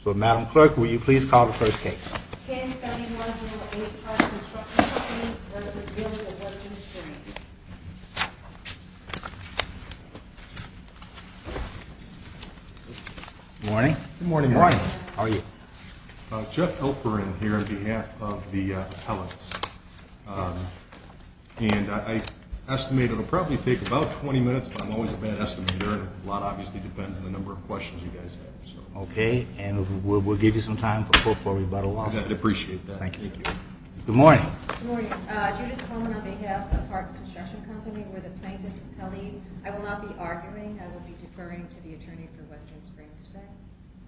So, Madam Clerk, will you please call the first case? 10-91-085 Construction Company v. Village of Western Springs Good morning. Good morning. How are you? Jeff Oprin here on behalf of the appellants. And I estimate it will probably take about 20 minutes, but I'm always a bad estimator. A lot obviously depends on the number of questions you guys have. Okay, and we'll give you some time before we bottle off. I'd appreciate that. Thank you. Good morning. Good morning. Judith Coleman on behalf of Hartz Construction Company. We're the plaintiffs' appellees. I will not be arguing. I will be deferring to the attorney for Western Springs today.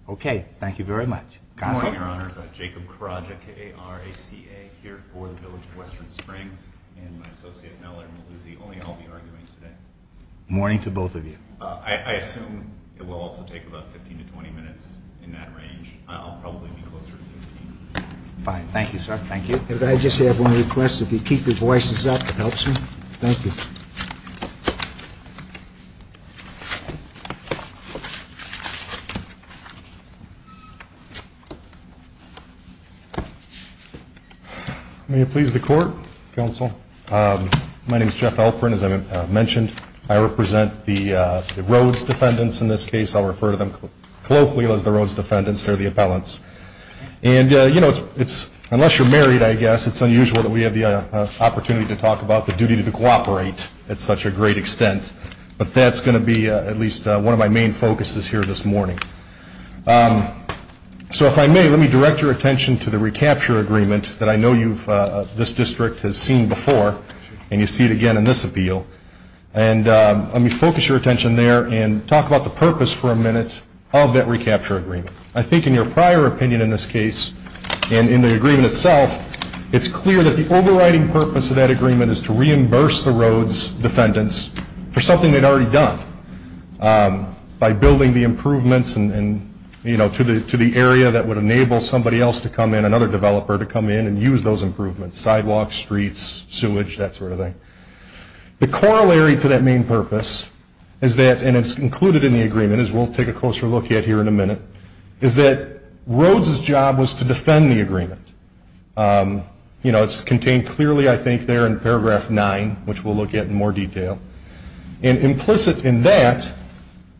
Okay. Thank you very much. Counsel? Good morning, Your Honors. Jacob Karadja, K-A-R-A-C-A, here for the Village of Western Springs. And my associate, Mellor Maluzzi. Only I'll be arguing today. Good morning to both of you. I assume it will also take about 15 to 20 minutes in that range. I'll probably be closer to 15. Fine. Thank you, sir. Thank you. Could I just have one request? If you keep your voices up, it helps me. Thank you. May it please the Court? Counsel? My name is Jeff Alperin, as I mentioned. I represent the Rhodes defendants in this case. I'll refer to them colloquially as the Rhodes defendants. They're the appellants. And, you know, unless you're married, I guess, it's unusual that we have the opportunity to talk about the duty to cooperate at such a great extent. But that's going to be at least one of my main focuses here this morning. So if I may, let me direct your attention to the recapture agreement that I know this district has seen before, and you see it again in this appeal. And let me focus your attention there and talk about the purpose for a minute of that recapture agreement. I think in your prior opinion in this case and in the agreement itself, it's clear that the overriding purpose of that agreement is to reimburse the Rhodes defendants for something they'd already done by building the improvements, you know, to the area that would enable somebody else to come in, and use those improvements, sidewalks, streets, sewage, that sort of thing. The corollary to that main purpose is that, and it's included in the agreement, as we'll take a closer look at here in a minute, is that Rhodes' job was to defend the agreement. You know, it's contained clearly, I think, there in paragraph 9, which we'll look at in more detail. And implicit in that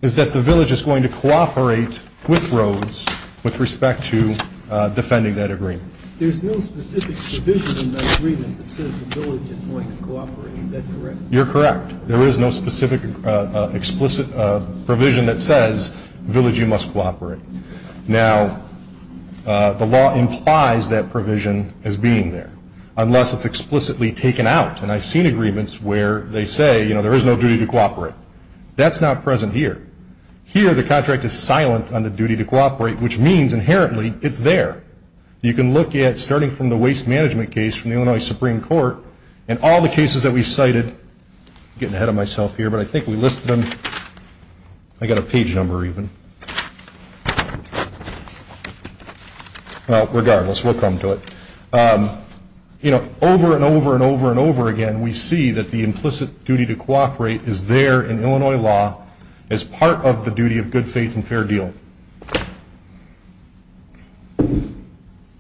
is that the village is going to cooperate with Rhodes with respect to defending that agreement. There's no specific provision in that agreement that says the village is going to cooperate. Is that correct? You're correct. There is no specific explicit provision that says village, you must cooperate. Now, the law implies that provision as being there, unless it's explicitly taken out. And I've seen agreements where they say, you know, there is no duty to cooperate. That's not present here. Here the contract is silent on the duty to cooperate, which means inherently it's there. You can look at, starting from the waste management case from the Illinois Supreme Court, and all the cases that we cited, getting ahead of myself here, but I think we listed them. I've got a page number even. Well, regardless, we'll come to it. You know, over and over and over and over again, we see that the implicit duty to cooperate is there in Illinois law as part of the duty of good faith and fair deal.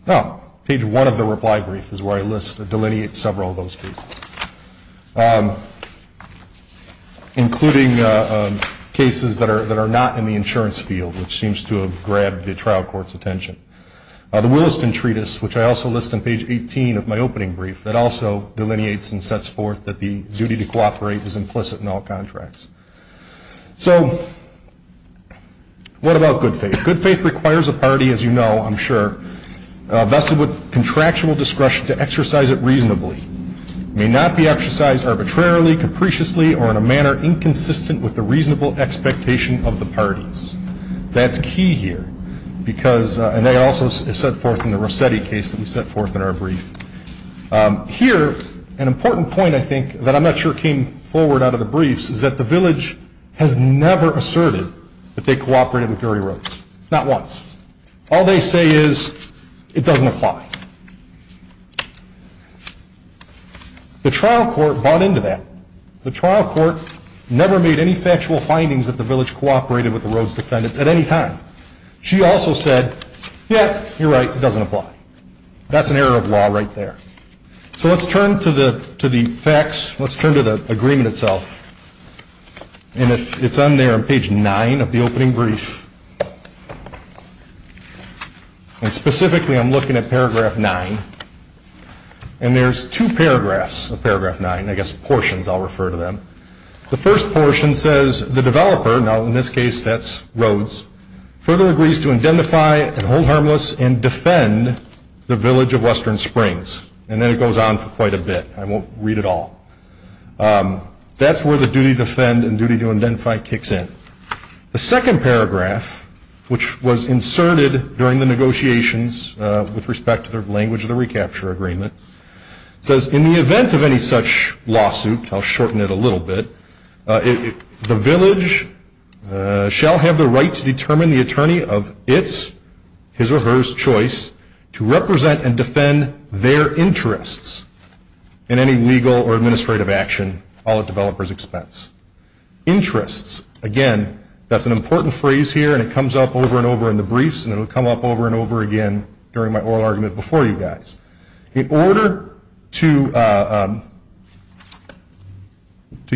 Now, page one of the reply brief is where I delineate several of those cases, including cases that are not in the insurance field, which seems to have grabbed the trial court's attention. The Williston Treatise, which I also list on page 18 of my opening brief, that also delineates and sets forth that the duty to cooperate is implicit in all contracts. So what about good faith? Good faith requires a party, as you know, I'm sure, vested with contractual discretion to exercise it reasonably. It may not be exercised arbitrarily, capriciously, or in a manner inconsistent with the reasonable expectation of the parties. That's key here because, and that also is set forth in the Rossetti case that we set forth in our brief. Here, an important point, I think, that I'm not sure came forward out of the briefs, is that the village has never asserted that they cooperated with Dury Roads, not once. All they say is it doesn't apply. The trial court bought into that. The trial court never made any factual findings that the village cooperated with the Roads defendants at any time. She also said, yeah, you're right, it doesn't apply. That's an error of law right there. So let's turn to the facts. Let's turn to the agreement itself. And it's on there on page 9 of the opening brief. And specifically I'm looking at paragraph 9. And there's two paragraphs of paragraph 9, I guess portions I'll refer to them. The first portion says the developer, now in this case that's Roads, further agrees to identify and hold harmless and defend the village of Western Springs. And then it goes on for quite a bit. I won't read it all. That's where the duty to defend and duty to identify kicks in. The second paragraph, which was inserted during the negotiations with respect to the language of the recapture agreement, says in the event of any such lawsuit, I'll shorten it a little bit, the village shall have the right to determine the attorney of its, his or hers choice, to represent and defend their interests in any legal or administrative action all at developer's expense. Interests. Again, that's an important phrase here, and it comes up over and over in the briefs, and it will come up over and over again during my oral argument before you guys. In order to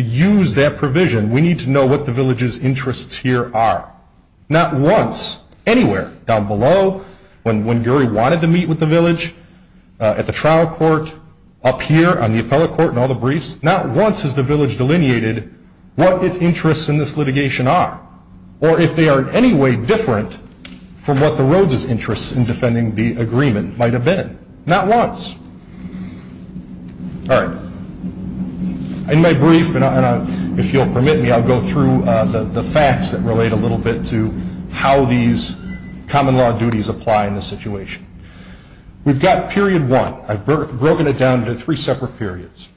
use that provision, we need to know what the village's interests here are. Not once, anywhere, down below, when Gary wanted to meet with the village, at the trial court, up here on the appellate court and all the briefs, not once has the village delineated what its interests in this litigation are, or if they are in any way different from what the roads' interests in defending the agreement might have been. Not once. All right. In my brief, and if you'll permit me, I'll go through the facts that relate a little bit to how these common law duties apply in this situation. We've got period one. I've broken it down into three separate periods.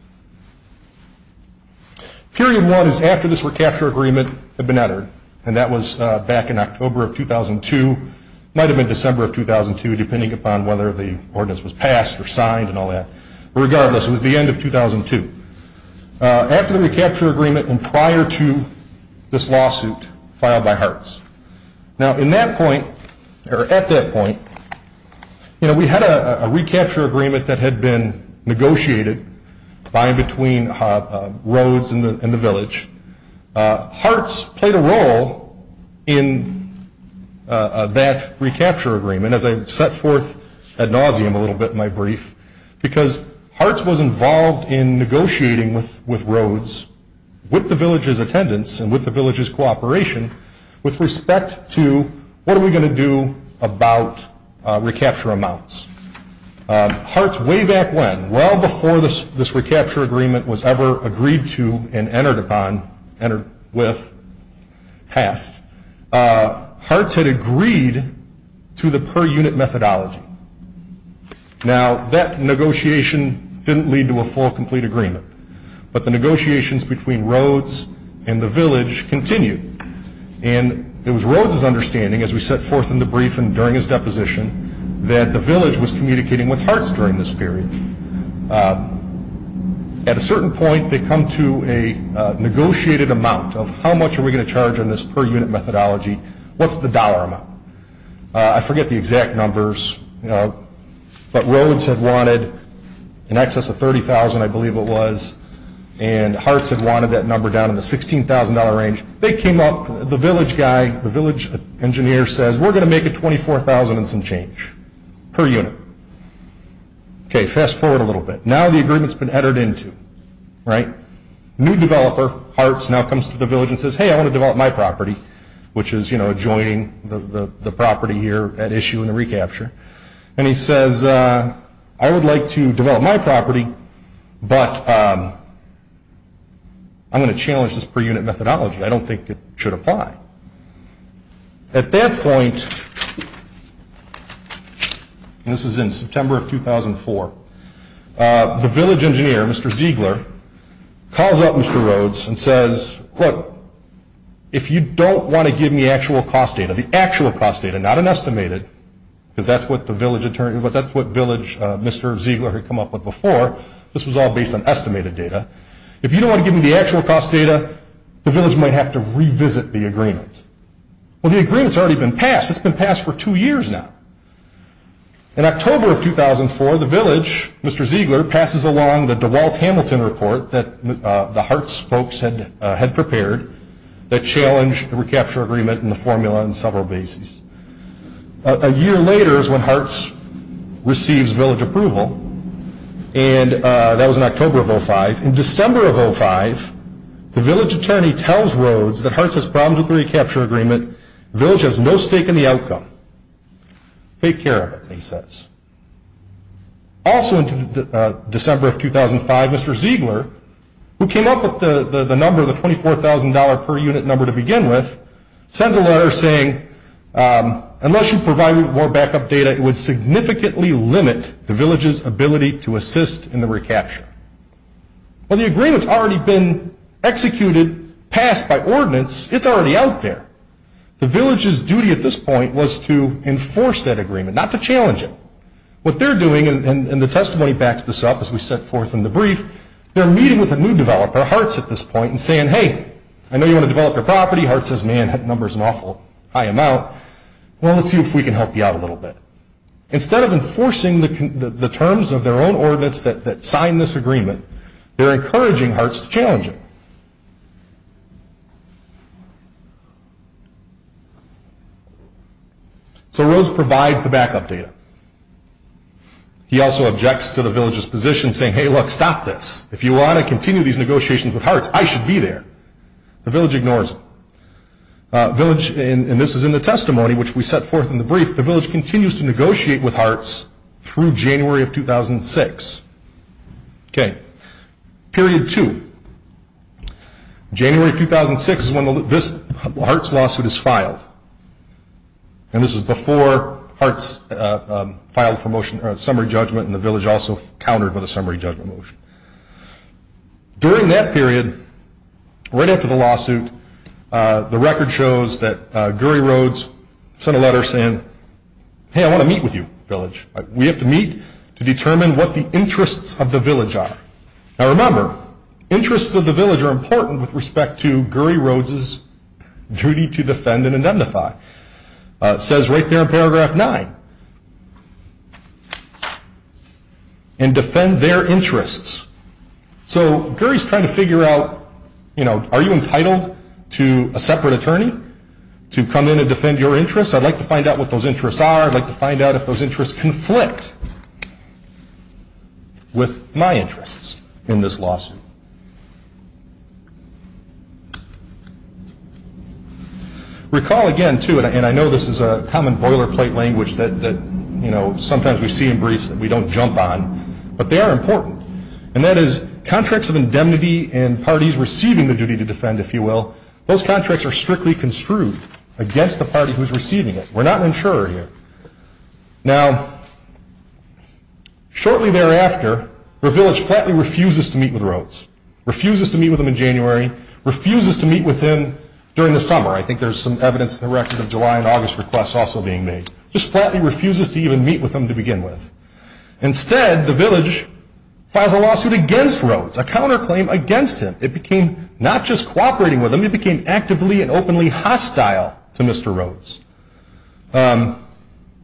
Period one is after this recapture agreement had been uttered, and that was back in October of 2002. It might have been December of 2002, depending upon whether the ordinance was passed or signed and all that. Regardless, it was the end of 2002. After the recapture agreement and prior to this lawsuit filed by Hartz. Now, at that point, we had a recapture agreement that had been negotiated by and between roads and the village. Hartz played a role in that recapture agreement, as I set forth ad nauseum a little bit in my brief, because Hartz was involved in negotiating with roads, with the village's attendance and with the village's cooperation with respect to what are we going to do about recapture amounts. Hartz, way back when, well before this recapture agreement was ever agreed to and entered upon, entered with, passed, Hartz had agreed to the per-unit methodology. Now, that negotiation didn't lead to a full, complete agreement, but the negotiations between roads and the village continued. And it was roads' understanding, as we set forth in the brief and during his deposition, that the village was communicating with Hartz during this period. At a certain point, they come to a negotiated amount of how much are we going to charge on this per-unit methodology, what's the dollar amount. I forget the exact numbers, but roads had wanted in excess of $30,000, I believe it was, and Hartz had wanted that number down in the $16,000 range. They came up, the village guy, the village engineer says, we're going to make a $24,000 and some change per unit. Okay, fast forward a little bit. Now the agreement's been entered into, right? New developer, Hartz, now comes to the village and says, hey, I want to develop my property, which is adjoining the property here at issue in the recapture. And he says, I would like to develop my property, but I'm going to challenge this per-unit methodology. I don't think it should apply. At that point, and this is in September of 2004, the village engineer, Mr. Ziegler, calls up Mr. Rhodes and says, look, if you don't want to give me the actual cost data, the actual cost data, not an estimated, because that's what the village attorney, but that's what village Mr. Ziegler had come up with before. This was all based on estimated data. If you don't want to give me the actual cost data, the village might have to revisit the agreement. Well, the agreement's already been passed. It's been passed for two years now. In October of 2004, the village, Mr. Ziegler, passes along the DeWalt Hamilton report that the Hartz folks had prepared that challenged the recapture agreement and the formula on several bases. A year later is when Hartz receives village approval, and that was in October of 2005. In December of 2005, the village attorney tells Rhodes that Hartz has problems with the recapture agreement. The village has no stake in the outcome. Take care of it, he says. Also in December of 2005, Mr. Ziegler, who came up with the number, the $24,000 per unit number to begin with, sends a letter saying, unless you provide me with more backup data, it would significantly limit the village's ability to assist in the recapture. Well, the agreement's already been executed, passed by ordinance. It's already out there. The village's duty at this point was to enforce that agreement, not to challenge it. What they're doing, and the testimony backs this up as we set forth in the brief, they're meeting with a new developer, Hartz at this point, and saying, hey, I know you want to develop your property. Hartz says, man, that number's an awful high amount. Well, let's see if we can help you out a little bit. Instead of enforcing the terms of their own ordinance that sign this agreement, they're encouraging Hartz to challenge it. So Rose provides the backup data. He also objects to the village's position, saying, hey, look, stop this. If you want to continue these negotiations with Hartz, I should be there. The village ignores it. The village, and this is in the testimony, which we set forth in the brief, the village continues to negotiate with Hartz through January of 2006. Period two. January of 2006 is when this Hartz lawsuit is filed. And this is before Hartz filed for motion, or summary judgment, and the village also countered with a summary judgment motion. During that period, right after the lawsuit, the record shows that Gurry Rhodes sent a letter saying, hey, I want to meet with you, village. We have to meet to determine what the interests of the village are. Now, remember, interests of the village are important with respect to Gurry Rhodes' duty to defend and identify. It says right there in paragraph nine, and defend their interests. So Gurry's trying to figure out, you know, are you entitled to a separate attorney to come in and defend your interests? I'd like to find out what those interests are. I'd like to find out if those interests conflict with my interests in this lawsuit. Recall, again, too, and I know this is a common boilerplate language that, you know, sometimes we see in briefs that we don't jump on, but they are important. And that is contracts of indemnity and parties receiving the duty to defend, if you will, those contracts are strictly construed against the party who's receiving it. We're not an insurer here. Now, shortly thereafter, the village flatly refuses to meet with Rhodes, refuses to meet with him in January, refuses to meet with him during the summer. I think there's some evidence in the record of July and August requests also being made. Just flatly refuses to even meet with him to begin with. Instead, the village files a lawsuit against Rhodes, a counterclaim against him. It became not just cooperating with him, it became actively and openly hostile to Mr. Rhodes.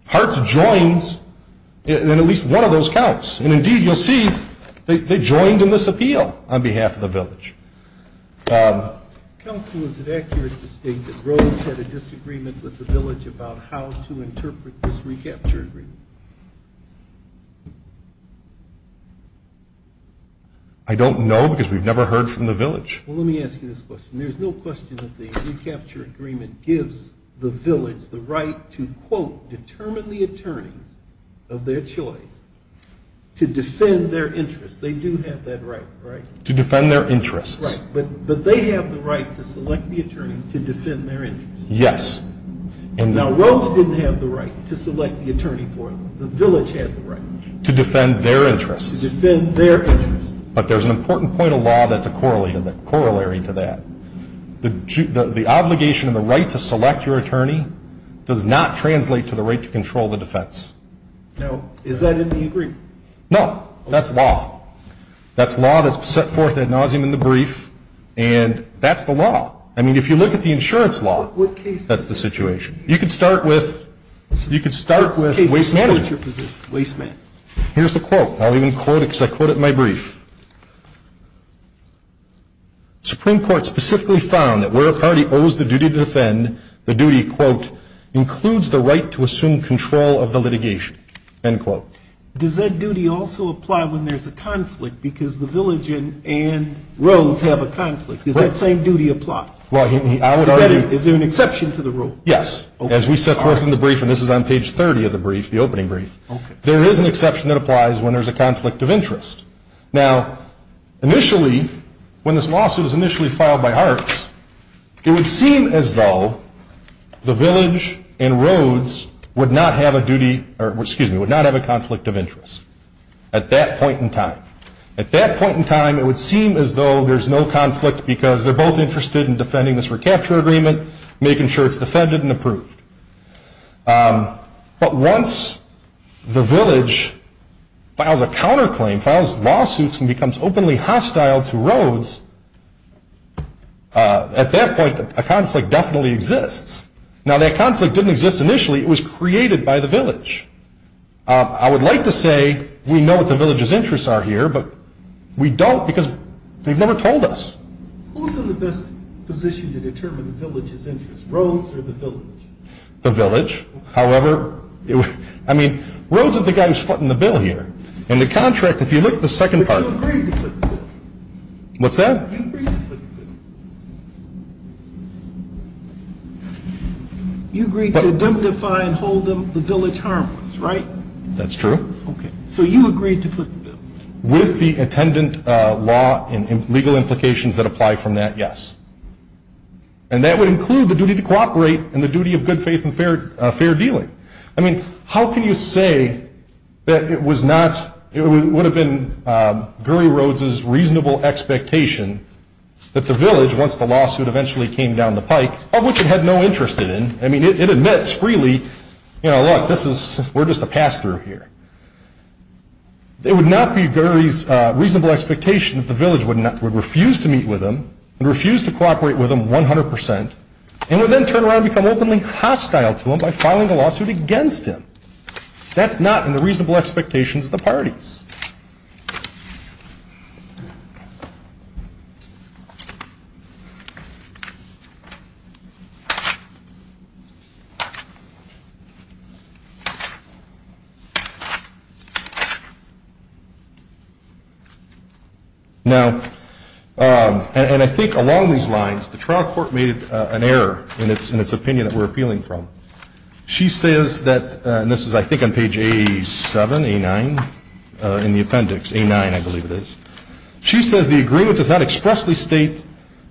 Parts joins in at least one of those counts. And, indeed, you'll see they joined in this appeal on behalf of the village. Counsel, is it accurate to state that Rhodes had a disagreement with the village about how to interpret this recapture agreement? I don't know because we've never heard from the village. Well, let me ask you this question. There's no question that the recapture agreement gives the village the right to, quote, determine the attorneys of their choice to defend their interests. They do have that right, right? To defend their interests. Right. But they have the right to select the attorney to defend their interests. Yes. Now, Rhodes didn't have the right to select the attorney for them. The village had the right. To defend their interests. To defend their interests. But there's an important point of law that's a corollary to that. The obligation and the right to select your attorney does not translate to the right to control the defense. Now, is that in the agreement? No. That's law. That's law that's set forth ad nauseum in the brief, and that's the law. I mean, if you look at the insurance law, that's the situation. You could start with waste management. Waste management. Here's the quote. I'll even quote it because I quote it in my brief. Supreme Court specifically found that where a party owes the duty to defend, the duty, quote, includes the right to assume control of the litigation, end quote. Does that duty also apply when there's a conflict because the village and Rhodes have a conflict? Does that same duty apply? Well, I would argue. Is there an exception to the rule? Yes. As we set forth in the brief, and this is on page 30 of the brief, the opening brief, there is an exception that applies when there's a conflict of interest. Now, initially, when this lawsuit was initially filed by Hart, it would seem as though the village and Rhodes would not have a duty or, excuse me, would not have a conflict of interest at that point in time. At that point in time, it would seem as though there's no conflict because they're both interested in defending this recapture agreement, making sure it's defended and approved. But once the village files a counterclaim, files lawsuits and becomes openly hostile to Rhodes, at that point a conflict definitely exists. Now, that conflict didn't exist initially. It was created by the village. I would like to say we know what the village's interests are here, but we don't because they've never told us. Who's in the best position to determine the village's interests, Rhodes or the village? The village. However, I mean, Rhodes is the guy who's footing the bill here. And the contract, if you look at the second part. But you agreed to foot the bill. What's that? You agreed to foot the bill. You agreed to indemnify and hold the village harmless, right? That's true. Okay. So you agreed to foot the bill. With the attendant law and legal implications that apply from that, yes. And that would include the duty to cooperate and the duty of good faith and fair dealing. I mean, how can you say that it was not, it would have been Gurry Rhodes's reasonable expectation that the village, once the lawsuit eventually came down the pike, of which it had no interest in. I mean, it admits freely, you know, look, this is, we're just a pass-through here. It would not be Gurry's reasonable expectation that the village would refuse to meet with him and refuse to cooperate with him 100 percent and would then turn around and become openly hostile to him by filing a lawsuit against him. That's not in the reasonable expectations of the parties. Okay. Now, and I think along these lines, the trial court made an error in its opinion that we're appealing from. She says that, and this is I think on page A7, A9, in the appendix, A9 I believe it is. She says the agreement does not expressly state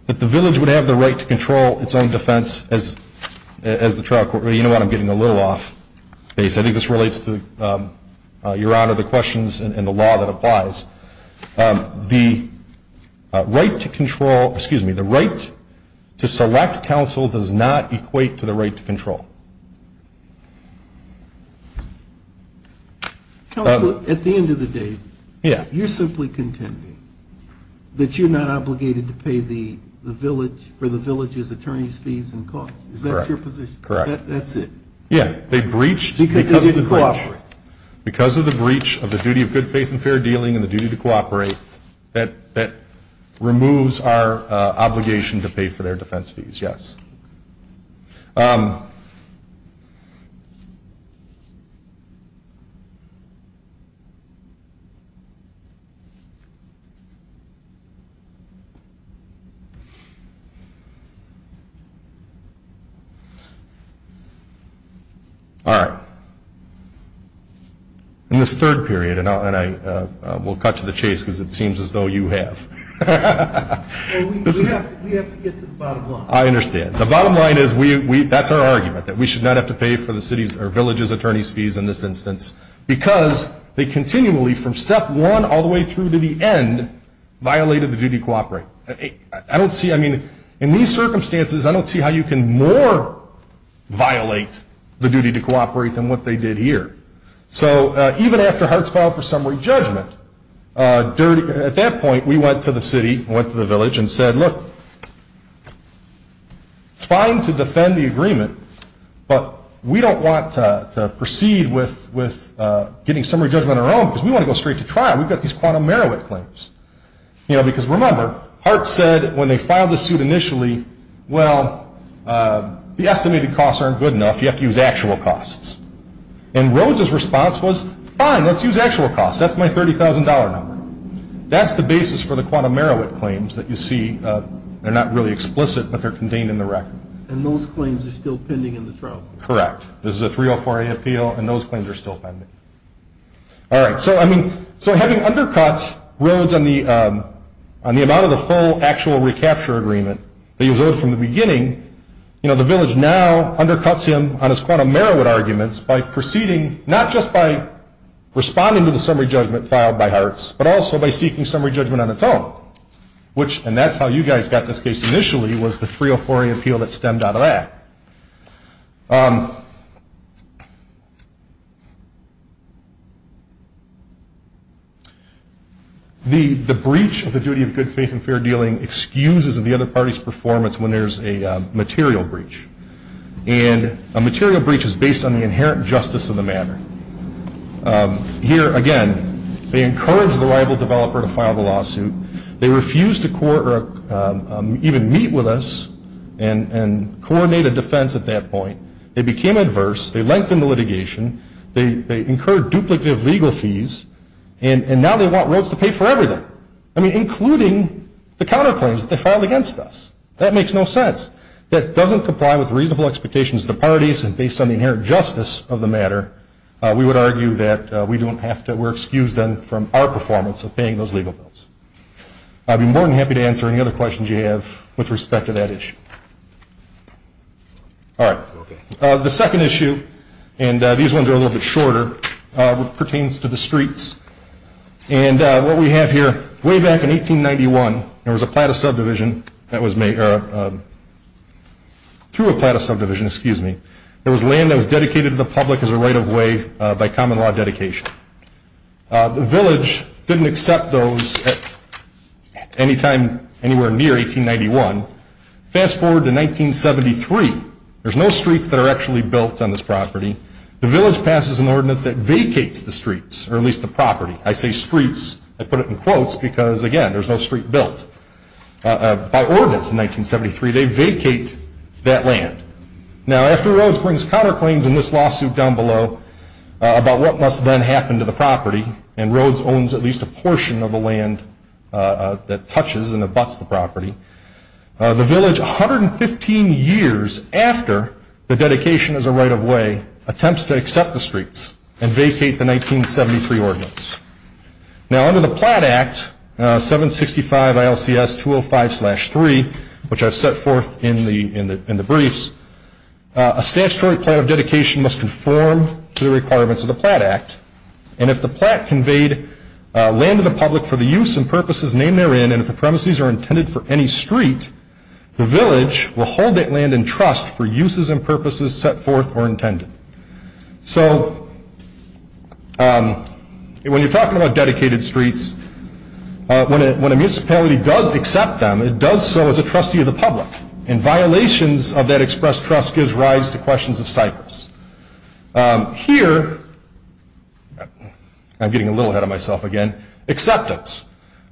that the village would have the right to control its own defense as the trial court. You know what, I'm getting a little off base. I think this relates to, Your Honor, the questions and the law that applies. The right to control, excuse me, the right to select counsel does not equate to the right to control. Counsel, at the end of the day, you're simply contending that you're not obligated to pay the village or the village's attorney's fees and costs. Is that your position? Correct. That's it? Yeah. They breached because of the breach. Of the duty of good faith and fair dealing and the duty to cooperate. That removes our obligation to pay for their defense fees. Yes. All right. In this third period, and I will cut to the chase because it seems as though you have. We have to get to the bottom line. I understand. The bottom line is that's our argument, that we should not have to pay for the village's attorney's fees in this instance because they continually, from step one all the way through to the end, violated the duty to cooperate. In these circumstances, I don't see how you can more violate the duty to cooperate than what they did here. So even after Hartz filed for summary judgment, at that point, we went to the city, went to the village, and said, look, it's fine to defend the agreement, but we don't want to proceed with getting summary judgment on our own because we want to go straight to trial. We've got these quantum merit claims. Because remember, Hartz said when they filed the suit initially, well, the estimated costs aren't good enough. You have to use actual costs. And Rhodes' response was, fine, let's use actual costs. That's my $30,000 number. That's the basis for the quantum merit claims that you see. They're not really explicit, but they're contained in the record. And those claims are still pending in the trial? Correct. This is a 304A appeal, and those claims are still pending. All right. So having undercut Rhodes on the amount of the full actual recapture agreement that he was owed from the beginning, the village now undercuts him on his quantum merit arguments by proceeding, not just by responding to the summary judgment filed by Hartz, but also by seeking summary judgment on its own, which, and that's how you guys got this case initially, was the 304A appeal that stemmed out of that. The breach of the duty of good faith and fair dealing excuses the other party's performance when there's a material breach. And a material breach is based on the inherent justice of the matter. Here, again, they encouraged the rival developer to file the lawsuit. They refused to even meet with us and coordinate a defense at that point. They became adverse. They lengthened the litigation. They incurred duplicative legal fees, and now they want Rhodes to pay for everything, including the counterclaims that they filed against us. That makes no sense. That doesn't comply with reasonable expectations of the parties, and based on the inherent justice of the matter, we would argue that we don't have to. We're excused, then, from our performance of paying those legal bills. I'd be more than happy to answer any other questions you have with respect to that issue. All right. The second issue, and these ones are a little bit shorter, pertains to the streets. And what we have here, way back in 1891, there was a plot of subdivision that was made or through a plot of subdivision, excuse me, there was land that was dedicated to the public as a right of way by common law dedication. The village didn't accept those at any time anywhere near 1891. Fast forward to 1973. There's no streets that are actually built on this property. The village passes an ordinance that vacates the streets, or at least the property. I say streets. I put it in quotes because, again, there's no street built. By ordinance in 1973, they vacate that land. Now, after Rhodes brings counterclaims in this lawsuit down below about what must then happen to the property, and Rhodes owns at least a portion of the land that touches and abuts the property, the village, 115 years after the dedication is a right of way, attempts to accept the streets and vacate the 1973 ordinance. Now, under the Platt Act, 765 ILCS 205-3, which I've set forth in the briefs, a statutory plan of dedication must conform to the requirements of the Platt Act. And if the Platt conveyed land to the public for the use and purposes named therein and if the premises are intended for any street, the village will hold that land in trust for uses and purposes set forth or intended. So when you're talking about dedicated streets, when a municipality does accept them, it does so as a trustee of the public. And violations of that expressed trust gives rise to questions of Cyprus. Here, I'm getting a little ahead of myself again, acceptance.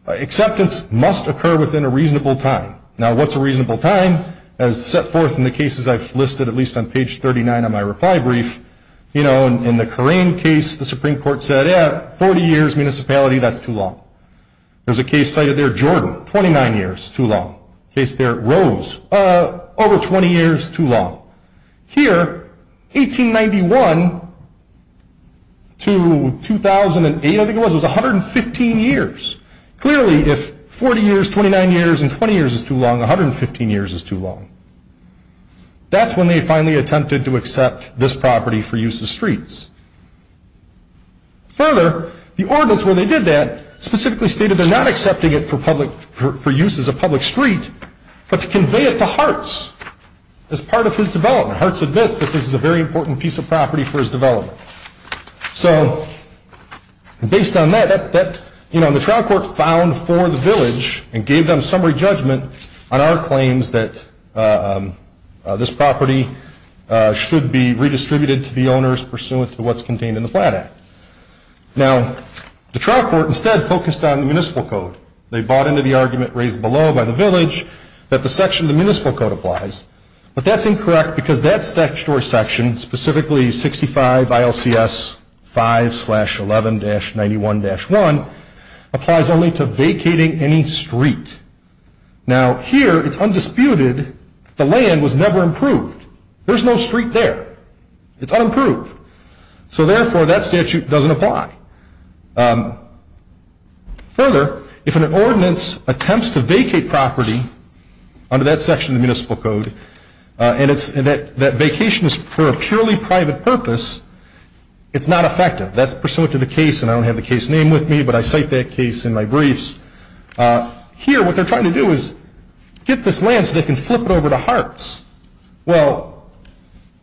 Acceptance must occur within a reasonable time. Now, what's a reasonable time? As set forth in the cases I've listed, at least on page 39 on my reply brief, you know, in the Corain case, the Supreme Court said, yeah, 40 years municipality, that's too long. There's a case cited there, Jordan, 29 years, too long. Case there, Rhodes, over 20 years, too long. Here, 1891 to 2008, I think it was, was 115 years. Clearly, if 40 years, 29 years, and 20 years is too long, 115 years is too long. That's when they finally attempted to accept this property for use as streets. Further, the ordinance where they did that specifically stated they're not accepting it for public, for use as a public street, but to convey it to Hartz as part of his development. Hartz admits that this is a very important piece of property for his development. So based on that, that, you know, the trial court filed for the village and gave them summary judgment on our claims that this property should be redistributed to the owners pursuant to what's contained in the Platt Act. Now, the trial court instead focused on the municipal code. They bought into the argument raised below by the village that the section of the municipal code applies. But that's incorrect because that statute or section, specifically 65 ILCS 5-11-91-1, applies only to vacating any street. Now, here, it's undisputed that the land was never approved. There's no street there. It's unapproved. So therefore, that statute doesn't apply. Further, if an ordinance attempts to vacate property under that section of the municipal code and that vacation is for a purely private purpose, it's not effective. That's pursuant to the case, and I don't have the case name with me, but I cite that case in my briefs. Here, what they're trying to do is get this land so they can flip it over to Hartz. Well,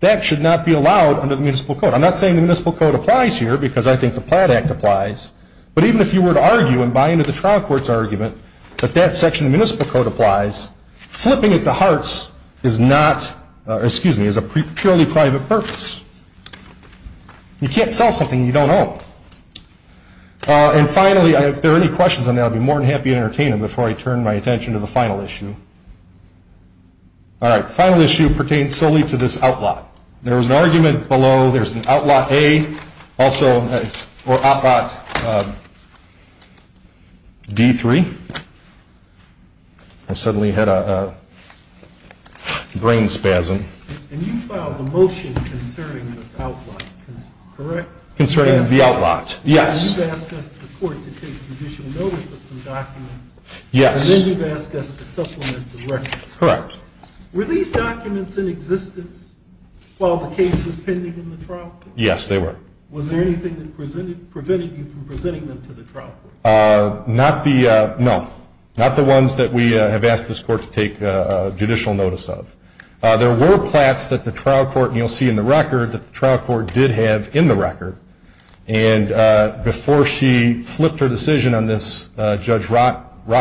that should not be allowed under the municipal code. I'm not saying the municipal code applies here because I think the Platt Act applies, but even if you were to argue and buy into the trial court's argument that that section of the municipal code applies, flipping it to Hartz is a purely private purpose. You can't sell something you don't own. And finally, if there are any questions on that, I'll be more than happy to entertain them before I turn my attention to the final issue. All right, the final issue pertains solely to this outlaw. There was an argument below, there's an outlaw A also, or outlaw D3. I suddenly had a brain spasm. And you filed a motion concerning this outlaw, correct? Concerning the outlaw, yes. You've asked us to take judicial notice of some documents. Yes. And then you've asked us to supplement the record. Correct. Were these documents in existence while the case was pending in the trial court? Yes, they were. Was there anything that prevented you from presenting them to the trial court? No, not the ones that we have asked this court to take judicial notice of. There were Platts that the trial court, and you'll see in the record, that the trial court did have in the record. And before she flipped her decision on this, Judge Rochford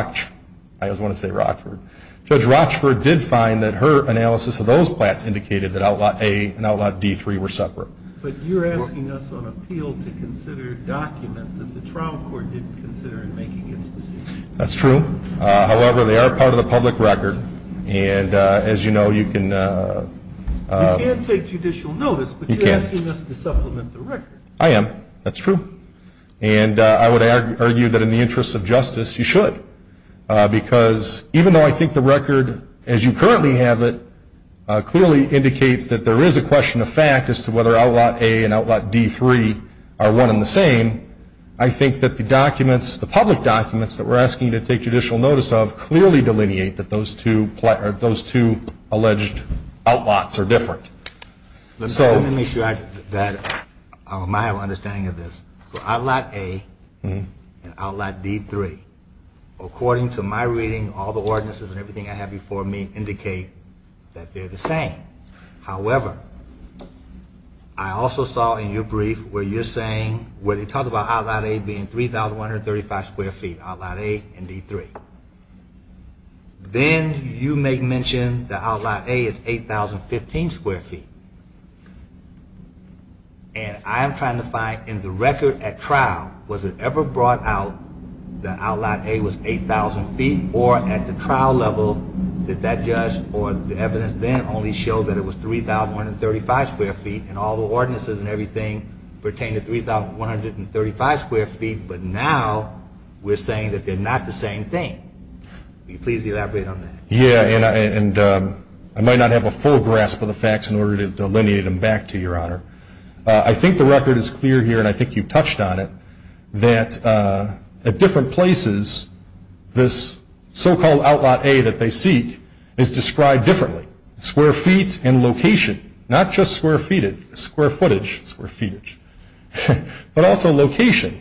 did find that her analysis of those Platts indicated that outlaw A and outlaw D3 were separate. But you're asking us on appeal to consider documents that the trial court didn't consider in making its decision. That's true. However, they are part of the public record. And as you know, you can... But you're asking us to supplement the record. I am. That's true. And I would argue that in the interest of justice, you should. Because even though I think the record, as you currently have it, clearly indicates that there is a question of fact as to whether outlaw A and outlaw D3 are one and the same, I think that the documents, the public documents that we're asking you to take judicial notice of, clearly delineate that those two alleged outlaws are different. Let me make sure that my understanding of this. So outlaw A and outlaw D3, according to my reading, all the ordinances and everything I have before me indicate that they're the same. However, I also saw in your brief where you're saying, where they talk about outlaw A being 3,135 square feet, outlaw A and D3. Then you make mention that outlaw A is 8,015 square feet. And I am trying to find, in the record at trial, was it ever brought out that outlaw A was 8,000 feet? Or at the trial level, did that judge or the evidence then only show that it was 3,135 square feet and all the ordinances and everything pertain to 3,135 square feet? But now we're saying that they're not the same thing. Will you please elaborate on that? Yeah. And I might not have a full grasp of the facts in order to delineate them back to you, Your Honor. I think the record is clear here, and I think you've touched on it, that at different places this so-called outlaw A that they seek is described differently, square feet and location, not just square footage, square feetage, but also location.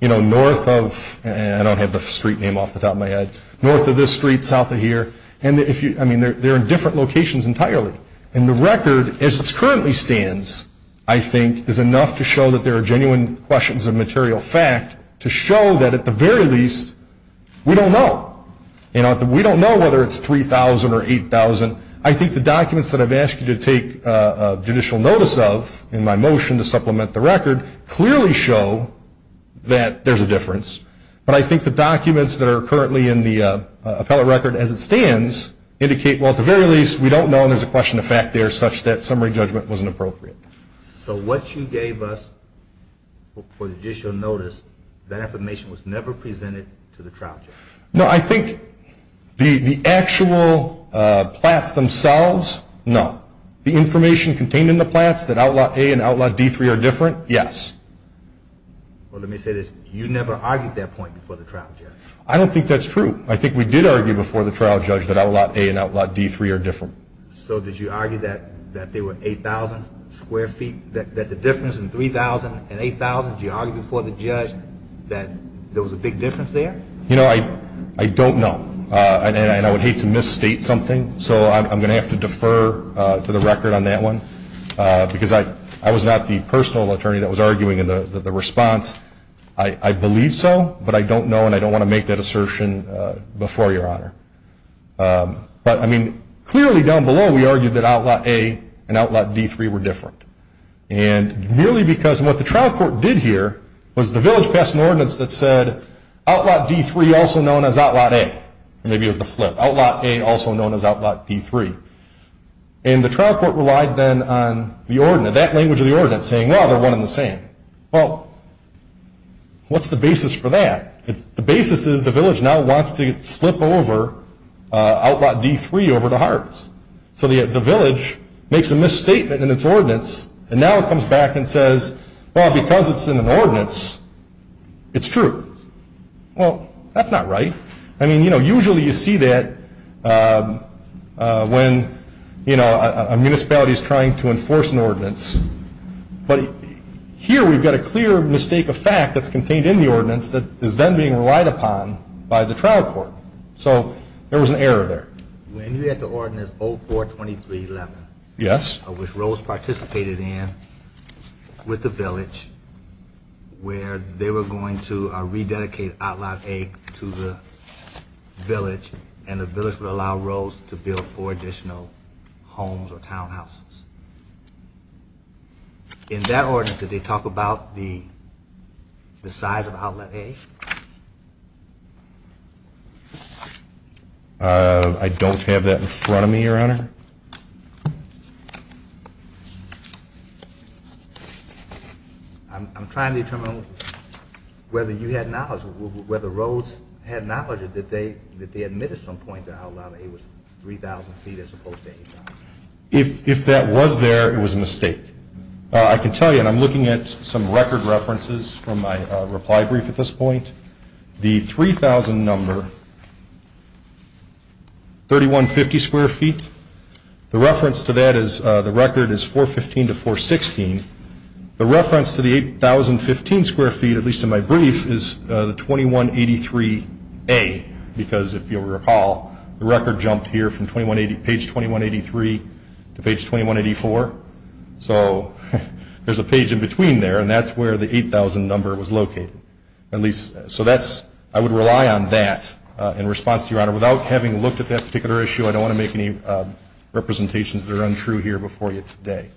You know, north of, and I don't have the street name off the top of my head, north of this street, south of here, and if you, I mean, they're in different locations entirely. And the record, as it currently stands, I think, is enough to show that there are genuine questions of material fact to show that at the very least, we don't know. You know, we don't know whether it's 3,000 or 8,000. I think the documents that I've asked you to take judicial notice of in my motion to supplement the record clearly show that there's a difference. But I think the documents that are currently in the appellate record as it stands indicate, well, at the very least, we don't know and there's a question of fact there such that summary judgment wasn't appropriate. So what you gave us for the judicial notice, that information was never presented to the trial judge? No, I think the actual plats themselves, no. The information contained in the plats that outlot A and outlot D3 are different? Yes. Well, let me say this. You never argued that point before the trial judge. I don't think that's true. I think we did argue before the trial judge that outlot A and outlot D3 are different. So did you argue that there were 8,000 square feet, that the difference in 3,000 and 8,000, did you argue before the judge that there was a big difference there? You know, I don't know. And I would hate to misstate something, so I'm going to have to defer to the record on that one, because I was not the personal attorney that was arguing in the response. I believe so, but I don't know and I don't want to make that assertion before Your Honor. But, I mean, clearly down below we argued that outlot A and outlot D3 were different. And merely because what the trial court did here was the village passed an ordinance that said outlot D3, also known as outlot A, or maybe it was the flip, outlot A, also known as outlot D3. And the trial court relied then on the ordinance, that language of the ordinance, saying, well, they're one and the same. Well, what's the basis for that? The basis is the village now wants to flip over outlot D3 over to Hartz. So the village makes a misstatement in its ordinance, and now it comes back and says, well, because it's in an ordinance, it's true. Well, that's not right. I mean, you know, usually you see that when, you know, a municipality is trying to enforce an ordinance. But here we've got a clear mistake of fact that's contained in the ordinance that is then being relied upon by the trial court. So there was an error there. When you had the ordinance 042311, which Rose participated in, with the village, where they were going to rededicate outlot A to the village, and the village would allow Rose to build four additional homes or townhouses. In that ordinance, did they talk about the size of outlet A? I don't have that in front of me, Your Honor. I'm trying to determine whether you had knowledge, whether Rose had knowledge, or did they admit at some point that outlet A was 3,000 feet as opposed to 8,000? If that was there, it was a mistake. I can tell you, and I'm looking at some record references from my reply brief at this point, the 3,000 number, 3150 square feet, the reference to that is the record is 415 to 416. The reference to the 8,015 square feet, at least in my brief, is the 2183A, because if you'll recall, the record jumped here from page 2183 to page 2184. So there's a page in between there, and that's where the 8,000 number was located, so I would rely on that in response to Your Honor. Without having looked at that particular issue, I don't want to make any representations that are untrue here before you today.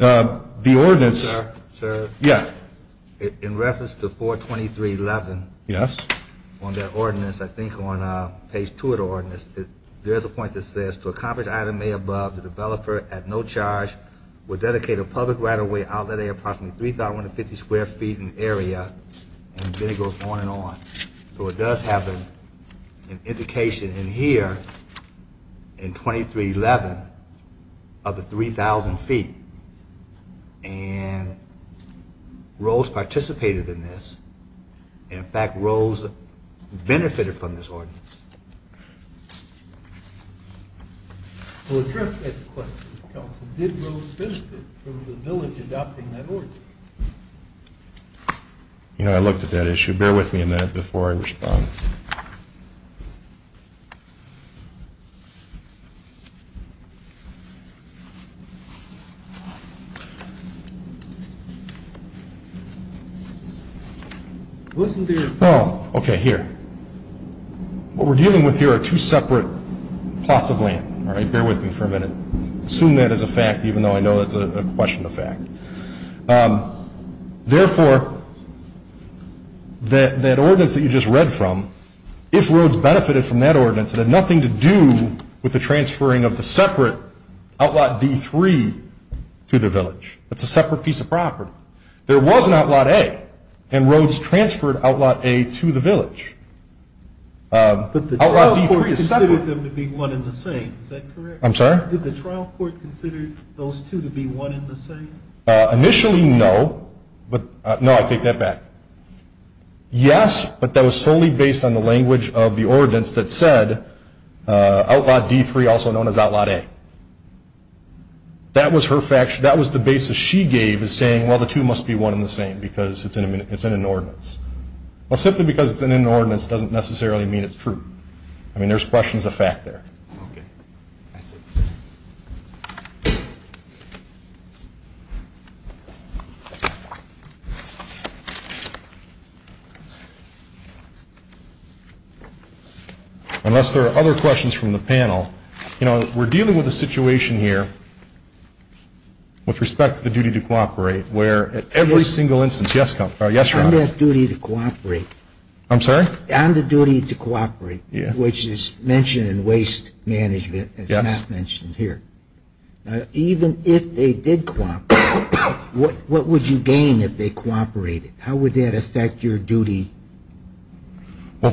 Okay. The ordinance. Sir? Yeah. In reference to 423.11 on that ordinance, I think on page 2 of the ordinance, there's a point that says, to accomplish item A above, the developer at no charge will dedicate a public right-of-way outlet area of approximately 3,150 square feet in the area, and then it goes on and on. So it does have an indication in here in 2311 of the 3,000 feet, and Rose participated in this. In fact, Rose benefited from this ordinance. We'll address that question, Counsel. Did Rose benefit from the village adopting that ordinance? You know, I looked at that issue. Bear with me a minute before I respond. Listen to your. Oh, okay, here. What we're dealing with here are two separate plots of land. All right? Bear with me for a minute. Assume that is a fact, even though I know that's a question of fact. Therefore, that ordinance that you just read from, if Rose benefited from that ordinance, it had nothing to do with the transferring of the separate Outlot D3 to the village. It's a separate piece of property. There was an Outlot A, and Rose transferred Outlot A to the village. But the trial court considered them to be one and the same. Is that correct? I'm sorry? Did the trial court consider those two to be one and the same? Initially, no. No, I take that back. Yes, but that was solely based on the language of the ordinance that said Outlot D3, also known as Outlot A. That was the basis she gave as saying, well, the two must be one and the same, because it's in an ordinance. Well, simply because it's in an ordinance doesn't necessarily mean it's true. I mean, there's questions of fact there. Okay. I see. Unless there are other questions from the panel. You know, we're dealing with a situation here with respect to the duty to cooperate, where at every single instance. Yes, Your Honor? On that duty to cooperate. I'm sorry? On the duty to cooperate, which is mentioned in waste management. It's not mentioned here. Even if they did cooperate, what would you gain if they cooperated? How would that affect your duty? To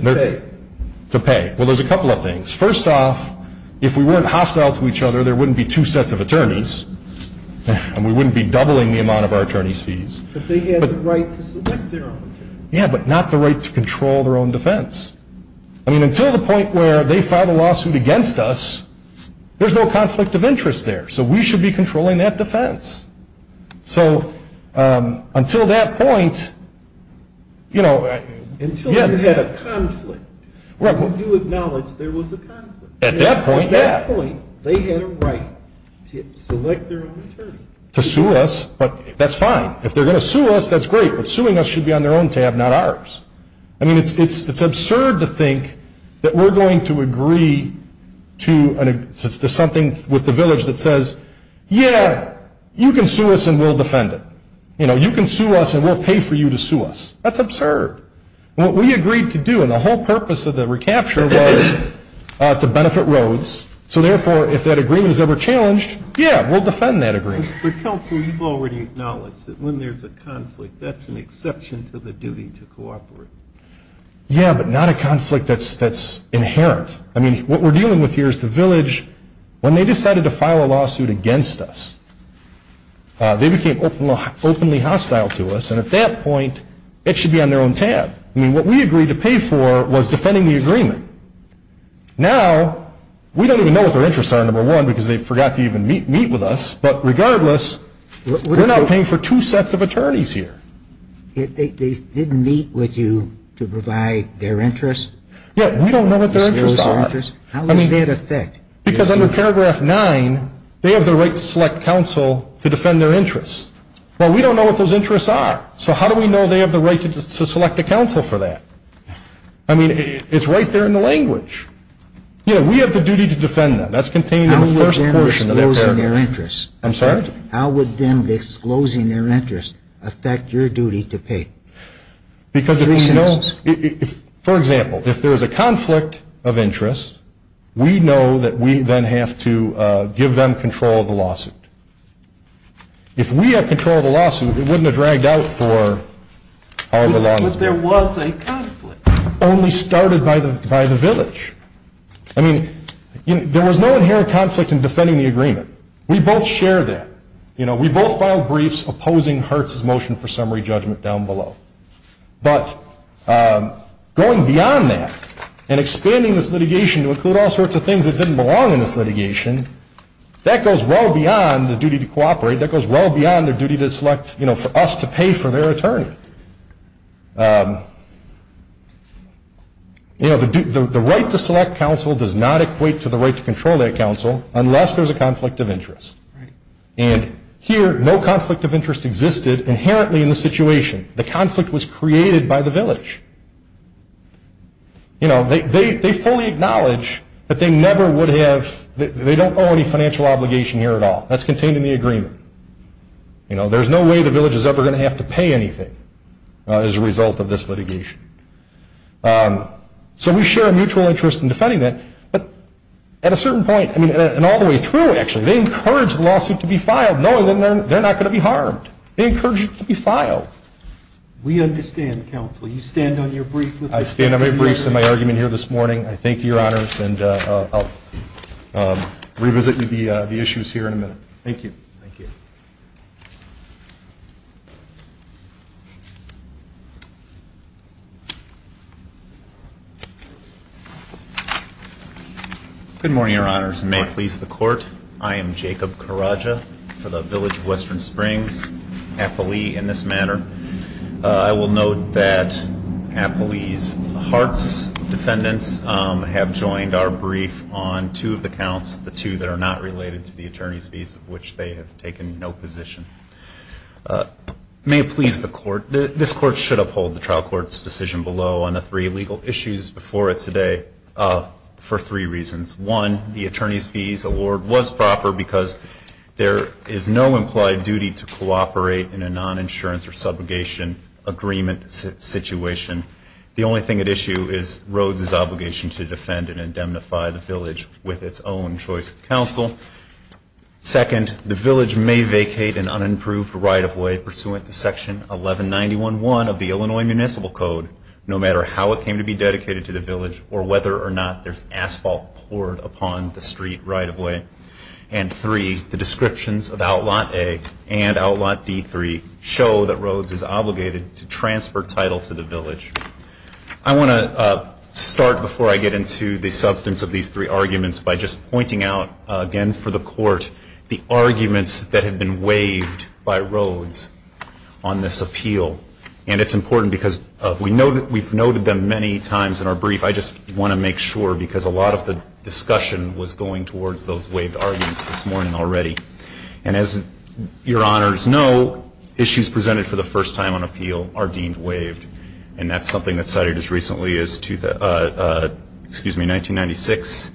pay. To pay. Well, there's a couple of things. First off, if we weren't hostile to each other, there wouldn't be two sets of attorneys, and we wouldn't be doubling the amount of our attorneys' fees. But they had the right to select their own attorneys. Yeah, but not the right to control their own defense. I mean, until the point where they file a lawsuit against us, there's no conflict of interest there. So we should be controlling that defense. So until that point, you know. Until they had a conflict. You acknowledge there was a conflict. At that point, yeah. At that point, they had a right to select their own attorney. To sue us. But that's fine. If they're going to sue us, that's great. But suing us should be on their own tab, not ours. I mean, it's absurd to think that we're going to agree to something with the village that says, yeah, you can sue us and we'll defend it. You know, you can sue us and we'll pay for you to sue us. That's absurd. What we agreed to do, and the whole purpose of the recapture was to benefit Rhodes. So therefore, if that agreement is ever challenged, yeah, we'll defend that agreement. For counsel, you've already acknowledged that when there's a conflict, that's an exception to the duty to cooperate. Yeah, but not a conflict that's inherent. I mean, what we're dealing with here is the village, when they decided to file a lawsuit against us, they became openly hostile to us. And at that point, it should be on their own tab. I mean, what we agreed to pay for was defending the agreement. Now, we don't even know what their interests are, number one, because they forgot to even meet with us. But regardless, we're not paying for two sets of attorneys here. They didn't meet with you to provide their interests? Yeah, we don't know what their interests are. I mean, because under paragraph 9, they have the right to select counsel to defend their interests. Well, we don't know what those interests are. So how do we know they have the right to select a counsel for that? I mean, it's right there in the language. You know, we have the duty to defend them. That's contained in the first portion of that paragraph. How would them disclosing their interests affect your duty to pay? Because if we know, for example, if there is a conflict of interest, we know that we then have to give them control of the lawsuit. If we have control of the lawsuit, it wouldn't have dragged out for however long. But there was a conflict. Only started by the village. I mean, there was no inherent conflict in defending the agreement. We both shared that. You know, we both filed briefs opposing Hertz's motion for summary judgment down below. But going beyond that and expanding this litigation to include all sorts of things that didn't belong in this litigation, that goes well beyond the duty to cooperate. That goes well beyond their duty to select, you know, for us to pay for their attorney. You know, the right to select counsel does not equate to the right to control that counsel, unless there's a conflict of interest. And here, no conflict of interest existed inherently in the situation. The conflict was created by the village. You know, they fully acknowledge that they never would have, they don't owe any financial obligation here at all. That's contained in the agreement. You know, there's no way the village is ever going to have to pay anything as a result of this litigation. So we share a mutual interest in defending that. But at a certain point, I mean, and all the way through, actually, they encouraged the lawsuit to be filed, knowing that they're not going to be harmed. They encouraged it to be filed. We understand, counsel. You stand on your briefs. I stand on my briefs and my argument here this morning. Thank you. Thank you. Good morning, Your Honors. May it please the Court. I am Jacob Carraggia for the Village of Western Springs, Applee in this matter. I will note that Applee's hearts defendants have joined our brief on two of the counts, the two that are not related to the attorney's fees of which they have taken no position. May it please the Court. This Court should uphold the trial court's decision below on the three legal issues before it today for three reasons. One, the attorney's fees award was proper because there is no implied duty to cooperate in a non-insurance or subrogation agreement situation. The only thing at issue is Rhodes' obligation to defend and indemnify the village with its own choice of counsel. Second, the village may vacate an unimproved right-of-way pursuant to Section 1191.1 of the Illinois Municipal Code, no matter how it came to be dedicated to the village or whether or not there's asphalt poured upon the street right-of-way. And three, the descriptions of Outlaw A and Outlaw D3 show that Rhodes is obligated to transfer title to the village. I want to start before I get into the substance of these three arguments by just pointing out, again for the Court, the arguments that have been waived by Rhodes on this appeal. And it's important because we've noted them many times in our brief. I just want to make sure because a lot of the discussion was going towards those waived arguments this morning already. And as your honors know, issues presented for the first time on appeal are deemed waived. And that's something that's cited as recently as 1996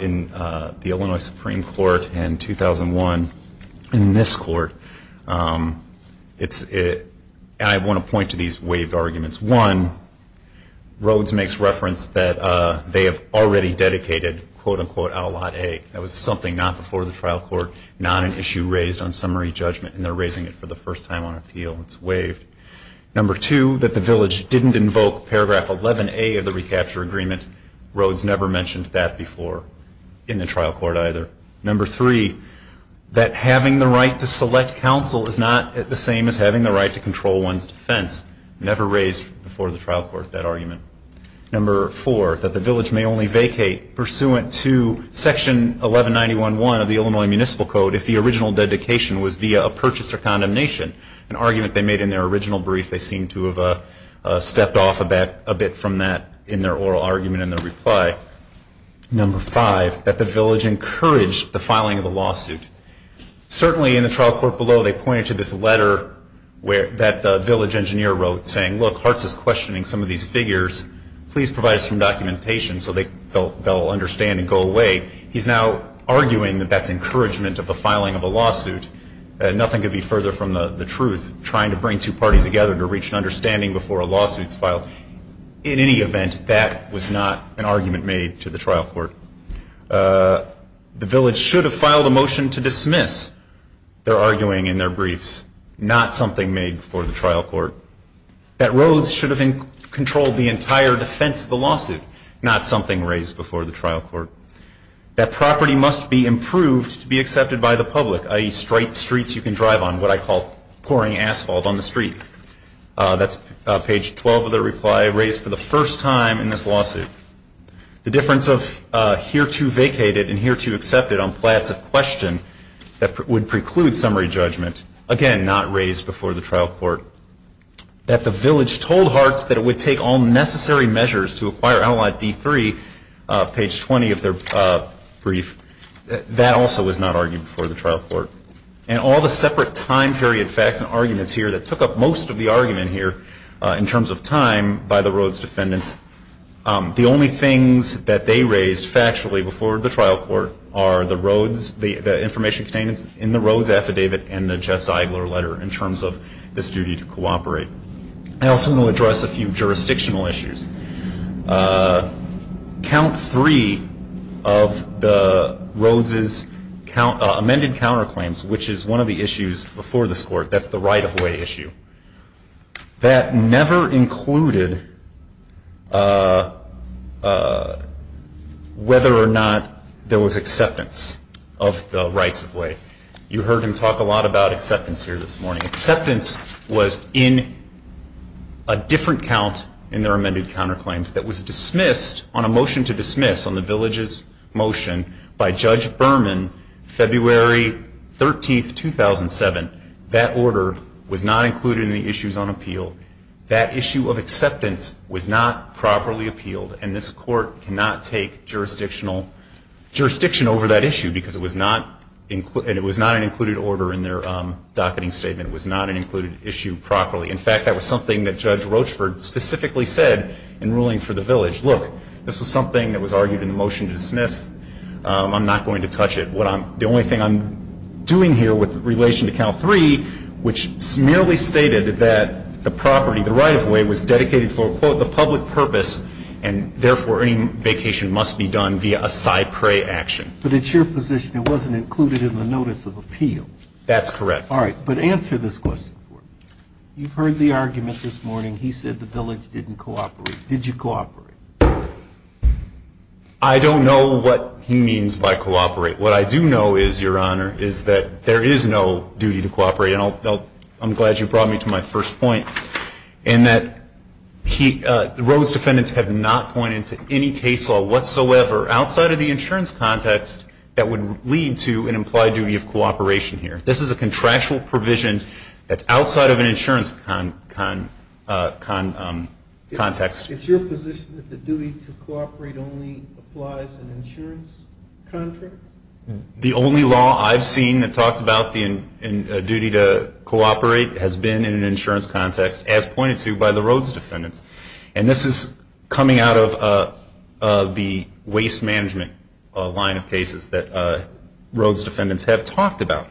in the Illinois Supreme Court and 2001 in this court. And I want to point to these waived arguments. One, Rhodes makes reference that they have already dedicated, quote, unquote, Outlaw A. That was something not before the trial court, not an issue raised on summary judgment. And they're raising it for the first time on appeal. It's waived. Number two, that the village didn't invoke Paragraph 11A of the recapture agreement. Rhodes never mentioned that before in the trial court either. Number three, that having the right to select counsel is not the same as having the right to control one's defense. Never raised before the trial court that argument. Number four, that the village may only vacate pursuant to Section 1191.1 of the Illinois Municipal Code if the original dedication was via a purchase or condemnation, an argument they made in their original brief. They seem to have stepped off a bit from that in their oral argument and their reply. Number five, that the village encouraged the filing of the lawsuit. Certainly in the trial court below, they pointed to this letter that the village engineer wrote, saying, look, Hartz is questioning some of these figures. Please provide us some documentation so they'll understand and go away. He's now arguing that that's encouragement of the filing of a lawsuit. Nothing could be further from the truth, trying to bring two parties together to reach an understanding before a lawsuit is filed. In any event, that was not an argument made to the trial court. The village should have filed a motion to dismiss their arguing in their briefs, not something made before the trial court. That Rose should have controlled the entire defense of the lawsuit, not something raised before the trial court. That property must be improved to be accepted by the public, i.e., straight streets you can drive on, what I call pouring asphalt on the street. That's page 12 of their reply, raised for the first time in this lawsuit. The difference of hereto vacated and hereto accepted on plats of question that would preclude summary judgment, again, not raised before the trial court. That the village told Hartz that it would take all necessary measures to acquire Allot D3, page 20 of their brief, that also was not argued before the trial court. And all the separate time period facts and arguments here that took up most of the argument here in terms of time by the Rhodes defendants, the only things that they raised factually before the trial court are the Rhodes, the information contained in the Rhodes affidavit and the Jeff Zeigler letter in terms of this duty to cooperate. I also want to address a few jurisdictional issues. Count three of the Rhodes' amended counterclaims, which is one of the issues before this court, that's the right-of-way issue. That never included whether or not there was acceptance of the right-of-way. You heard him talk a lot about acceptance here this morning. Acceptance was in a different count in their amended counterclaims that was dismissed on a motion to dismiss on the village's motion by Judge Berman, February 13, 2007. That order was not included in the issues on appeal. That issue of acceptance was not properly appealed, and this court cannot take jurisdiction over that issue because it was not an included order in their docketing statement. It was not an included issue properly. In fact, that was something that Judge Rochford specifically said in ruling for the village. Look, this was something that was argued in the motion to dismiss. I'm not going to touch it. The only thing I'm doing here with relation to count three, which merely stated that the property, the right-of-way, was dedicated for, quote, the public purpose, and therefore any vacation must be done via a cypre action. But it's your position it wasn't included in the notice of appeal. That's correct. All right. But answer this question for me. You've heard the argument this morning. He said the village didn't cooperate. Did you cooperate? I don't know what he means by cooperate. What I do know is, Your Honor, is that there is no duty to cooperate, and I'm glad you brought me to my first point, in that the Rhodes defendants have not pointed to any case law whatsoever outside of the insurance context that would lead to an implied duty of cooperation here. This is a contractual provision that's outside of an insurance context. It's your position that the duty to cooperate only applies in insurance contracts? The only law I've seen that talks about the duty to cooperate has been in an insurance context, as pointed to by the Rhodes defendants. And this is coming out of the waste management line of cases that Rhodes defendants have talked about.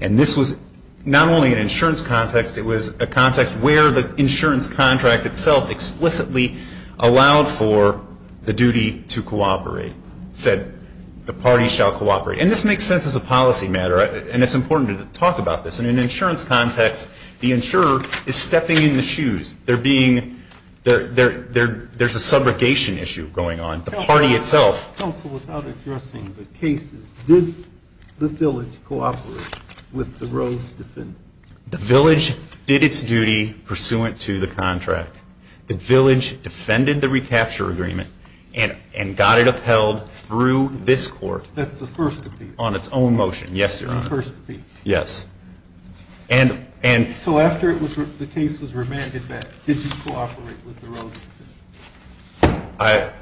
And this was not only an insurance context, it was a context where the insurance contract itself explicitly allowed for the duty to cooperate. It said the party shall cooperate. And this makes sense as a policy matter, and it's important to talk about this. And in an insurance context, the insurer is stepping in the shoes. There's a subrogation issue going on. The party itself. Counsel, without addressing the cases, did the village cooperate with the Rhodes defendants? The village did its duty pursuant to the contract. The village defended the recapture agreement and got it upheld through this court. That's the first appeal? On its own motion. Yes, Your Honor. The first appeal? Yes. So after the case was remanded back, did you cooperate with the Rhodes defendants?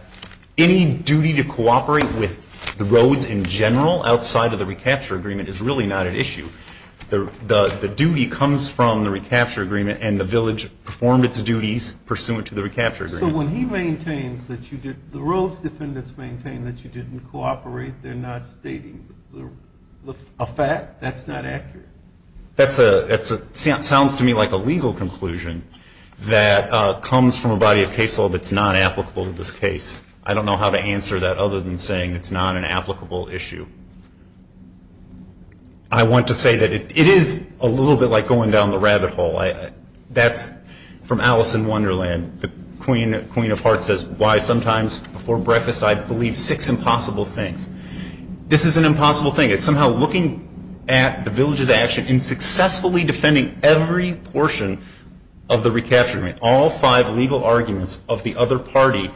Any duty to cooperate with the Rhodes in general, outside of the recapture agreement, is really not an issue. The duty comes from the recapture agreement, and the village performed its duties pursuant to the recapture agreement. So when he maintains that the Rhodes defendants maintain that you didn't cooperate, they're not stating a fact? That's not accurate? That sounds to me like a legal conclusion that comes from a body of case law that's not applicable to this case. I don't know how to answer that other than saying it's not an applicable issue. I want to say that it is a little bit like going down the rabbit hole. That's from Alice in Wonderland. The Queen of Hearts says, Why sometimes before breakfast I believe six impossible things. This is an impossible thing. It's somehow looking at the village's action in successfully defending every portion of the recapture agreement, all five legal arguments of the other party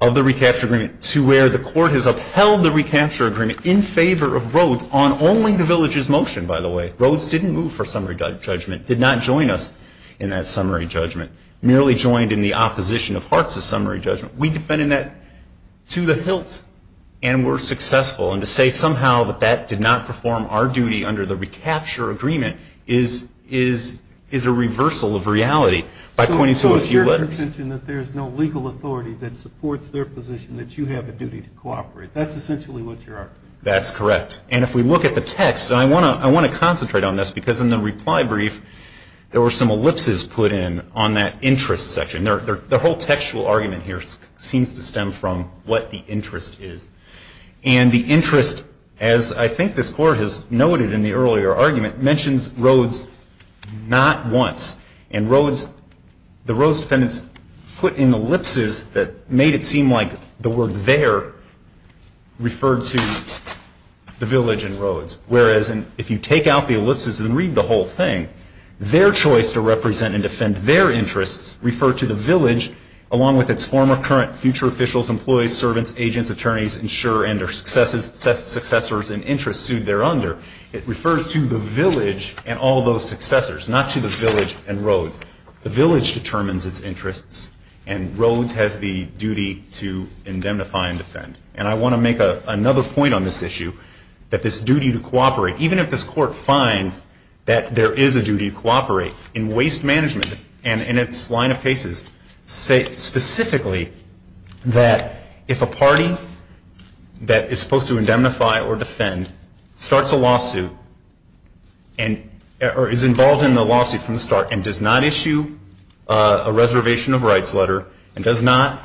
of the recapture agreement, to where the court has upheld the recapture agreement in favor of Rhodes on only the village's motion, by the way. Rhodes didn't move for summary judgment, did not join us in that summary judgment, merely joined in the opposition of Hearts' summary judgment. We defended that to the hilt and were successful. And to say somehow that that did not perform our duty under the recapture agreement is a reversal of reality by pointing to a few letters. There's no legal authority that supports their position that you have a duty to cooperate. That's essentially what you're arguing. That's correct. And if we look at the text, and I want to concentrate on this, because in the reply brief there were some ellipses put in on that interest section. The whole textual argument here seems to stem from what the interest is. And the interest, as I think this Court has noted in the earlier argument, mentions Rhodes not once. And Rhodes, the Rhodes defendants put in ellipses that made it seem like the word there referred to the village in Rhodes. Whereas if you take out the ellipses and read the whole thing, their choice to represent and defend their interests referred to the village, along with its former, current, future officials, employees, servants, agents, attorneys, insurer, and their successors and interests sued thereunder. It refers to the village and all those successors, not to the village and Rhodes. The village determines its interests, and Rhodes has the duty to indemnify and defend. And I want to make another point on this issue, that this duty to cooperate, even if this Court finds that there is a duty to cooperate in waste management and in its line of cases, states specifically that if a party that is supposed to indemnify or defend starts a lawsuit or is involved in the lawsuit from the start and does not issue a reservation of rights letter and does not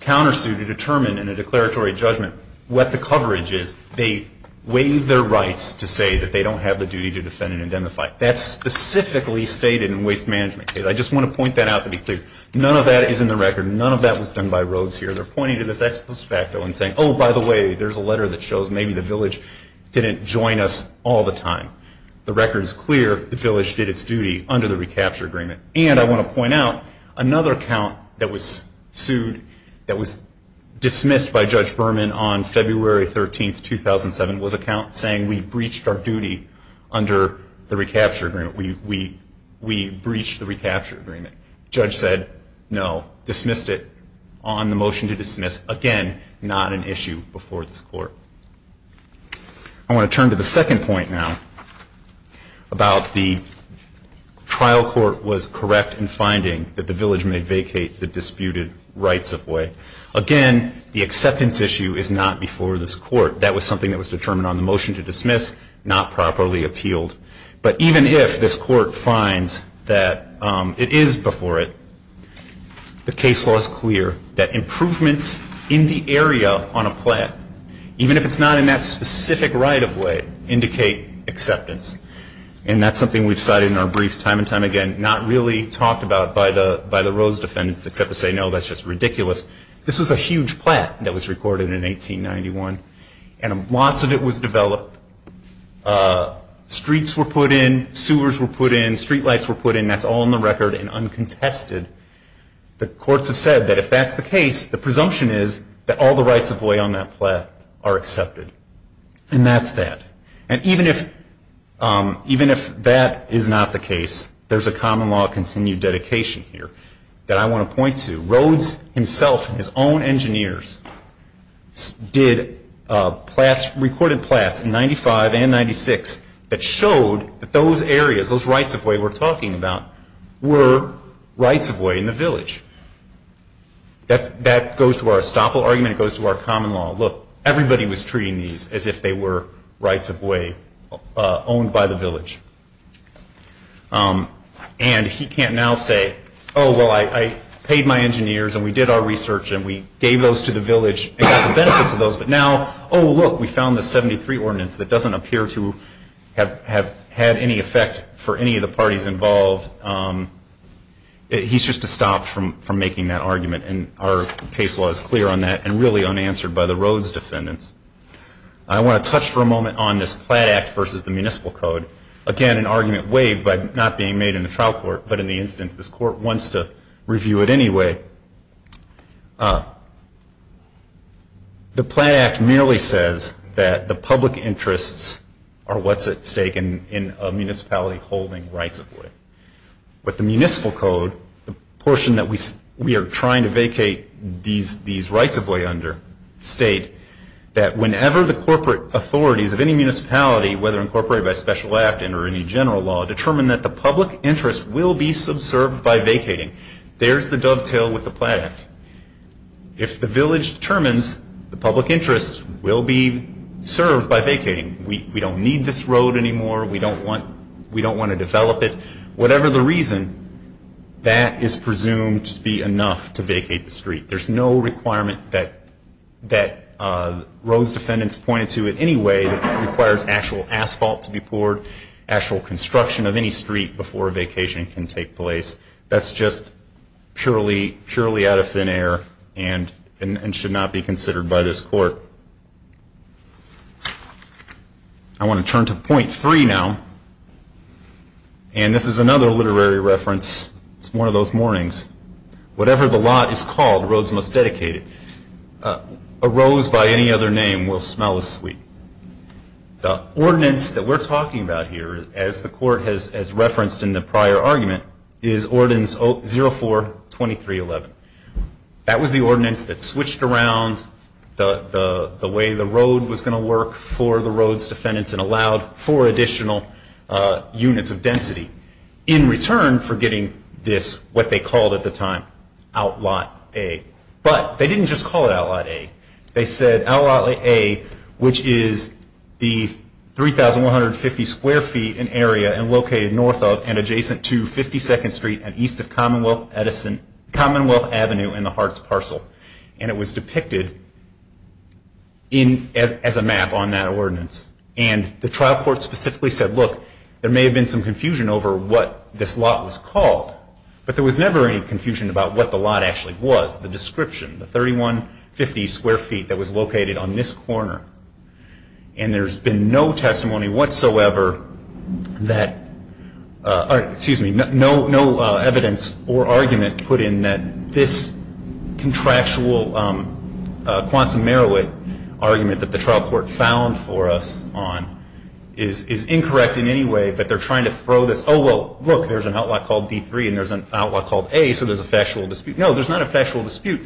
countersue to determine in a declaratory judgment what the coverage is, they waive their rights to say that they don't have the duty to defend and indemnify. That's specifically stated in waste management. I just want to point that out to be clear. None of that is in the record. None of that was done by Rhodes here. They're pointing to this ex post facto and saying, oh, by the way, there's a letter that shows maybe the village didn't join us all the time. The record is clear. The village did its duty under the recapture agreement. And I want to point out another count that was sued, that was dismissed by Judge Berman on February 13, 2007, was a count saying we breached our duty under the recapture agreement. We breached the recapture agreement. The judge said no, dismissed it on the motion to dismiss. Again, not an issue before this court. I want to turn to the second point now about the trial court was correct in finding that the village may vacate the disputed rights of way. Again, the acceptance issue is not before this court. That was something that was determined on the motion to dismiss, not properly appealed. But even if this court finds that it is before it, the case law is clear that improvements in the area on a plat, even if it's not in that specific right of way, indicate acceptance. And that's something we've cited in our briefs time and time again, not really talked about by the Rhodes defendants except to say, no, that's just ridiculous. This was a huge plat that was recorded in 1891. And lots of it was developed. Streets were put in. Sewers were put in. Street lights were put in. That's all on the record and uncontested. The courts have said that if that's the case, the presumption is that all the rights of way on that plat are accepted. And that's that. And even if that is not the case, there's a common law continued dedication here that I want to point to. Rhodes himself and his own engineers recorded plats in 95 and 96 that showed that those areas, those rights of way we're talking about, were rights of way in the village. That goes to our estoppel argument. It goes to our common law. Look, everybody was treating these as if they were rights of way owned by the village. And he can't now say, oh, well, I paid my engineers and we did our research and we gave those to the village and got the benefits of those. But now, oh, look, we found the 73 ordinance that doesn't appear to have had any effect for any of the parties involved. He's just to stop from making that argument. And our case law is clear on that and really unanswered by the Rhodes defendants. I want to touch for a moment on this plat act versus the municipal code. Again, an argument waived by not being made in the trial court, but in the instance this court wants to review it anyway. The plat act merely says that the public interests are what's at stake in a municipality holding rights of way. But the municipal code, the portion that we are trying to vacate these rights of way under, state that whenever the corporate authorities of any municipality, whether incorporated by special act or any general law, determine that the public interest will be subserved by vacating, there's the dovetail with the plat act. If the village determines the public interest will be served by vacating, we don't need this road anymore, we don't want to develop it, whatever the reason, that is presumed to be enough to vacate the street. There's no requirement that Rhodes defendants pointed to in any way that requires actual asphalt to be poured, actual construction of any street before a vacation can take place. That's just purely out of thin air and should not be considered by this court. I want to turn to point three now. And this is another literary reference, it's one of those mornings. Whatever the lot is called, Rhodes must dedicate it. A rose by any other name will smell as sweet. The ordinance that we're talking about here, as the court has referenced in the prior argument, is ordinance 04-2311. That was the ordinance that switched around the way the road was going to work for the Rhodes defendants and allowed for additional units of density. In return for getting this, what they called at the time, Outlot A. But they didn't just call it Outlot A, they said Outlot A, which is the 3,150 square feet in area and located north of and adjacent to 52nd Street and east of Commonwealth Avenue in the Harts Parcel. And it was depicted as a map on that ordinance. And the trial court specifically said, look, there may have been some confusion over what this lot was called, but there was never any confusion about what the lot actually was, the description, the 3,150 square feet that was located on this corner. And there's been no testimony whatsoever that, excuse me, no evidence or argument put in that this contractual argument that the trial court found for us on is incorrect in any way, but they're trying to throw this, oh, well, look, there's an outlot called D3 and there's an outlot called A, so there's a factual dispute. No, there's not a factual dispute.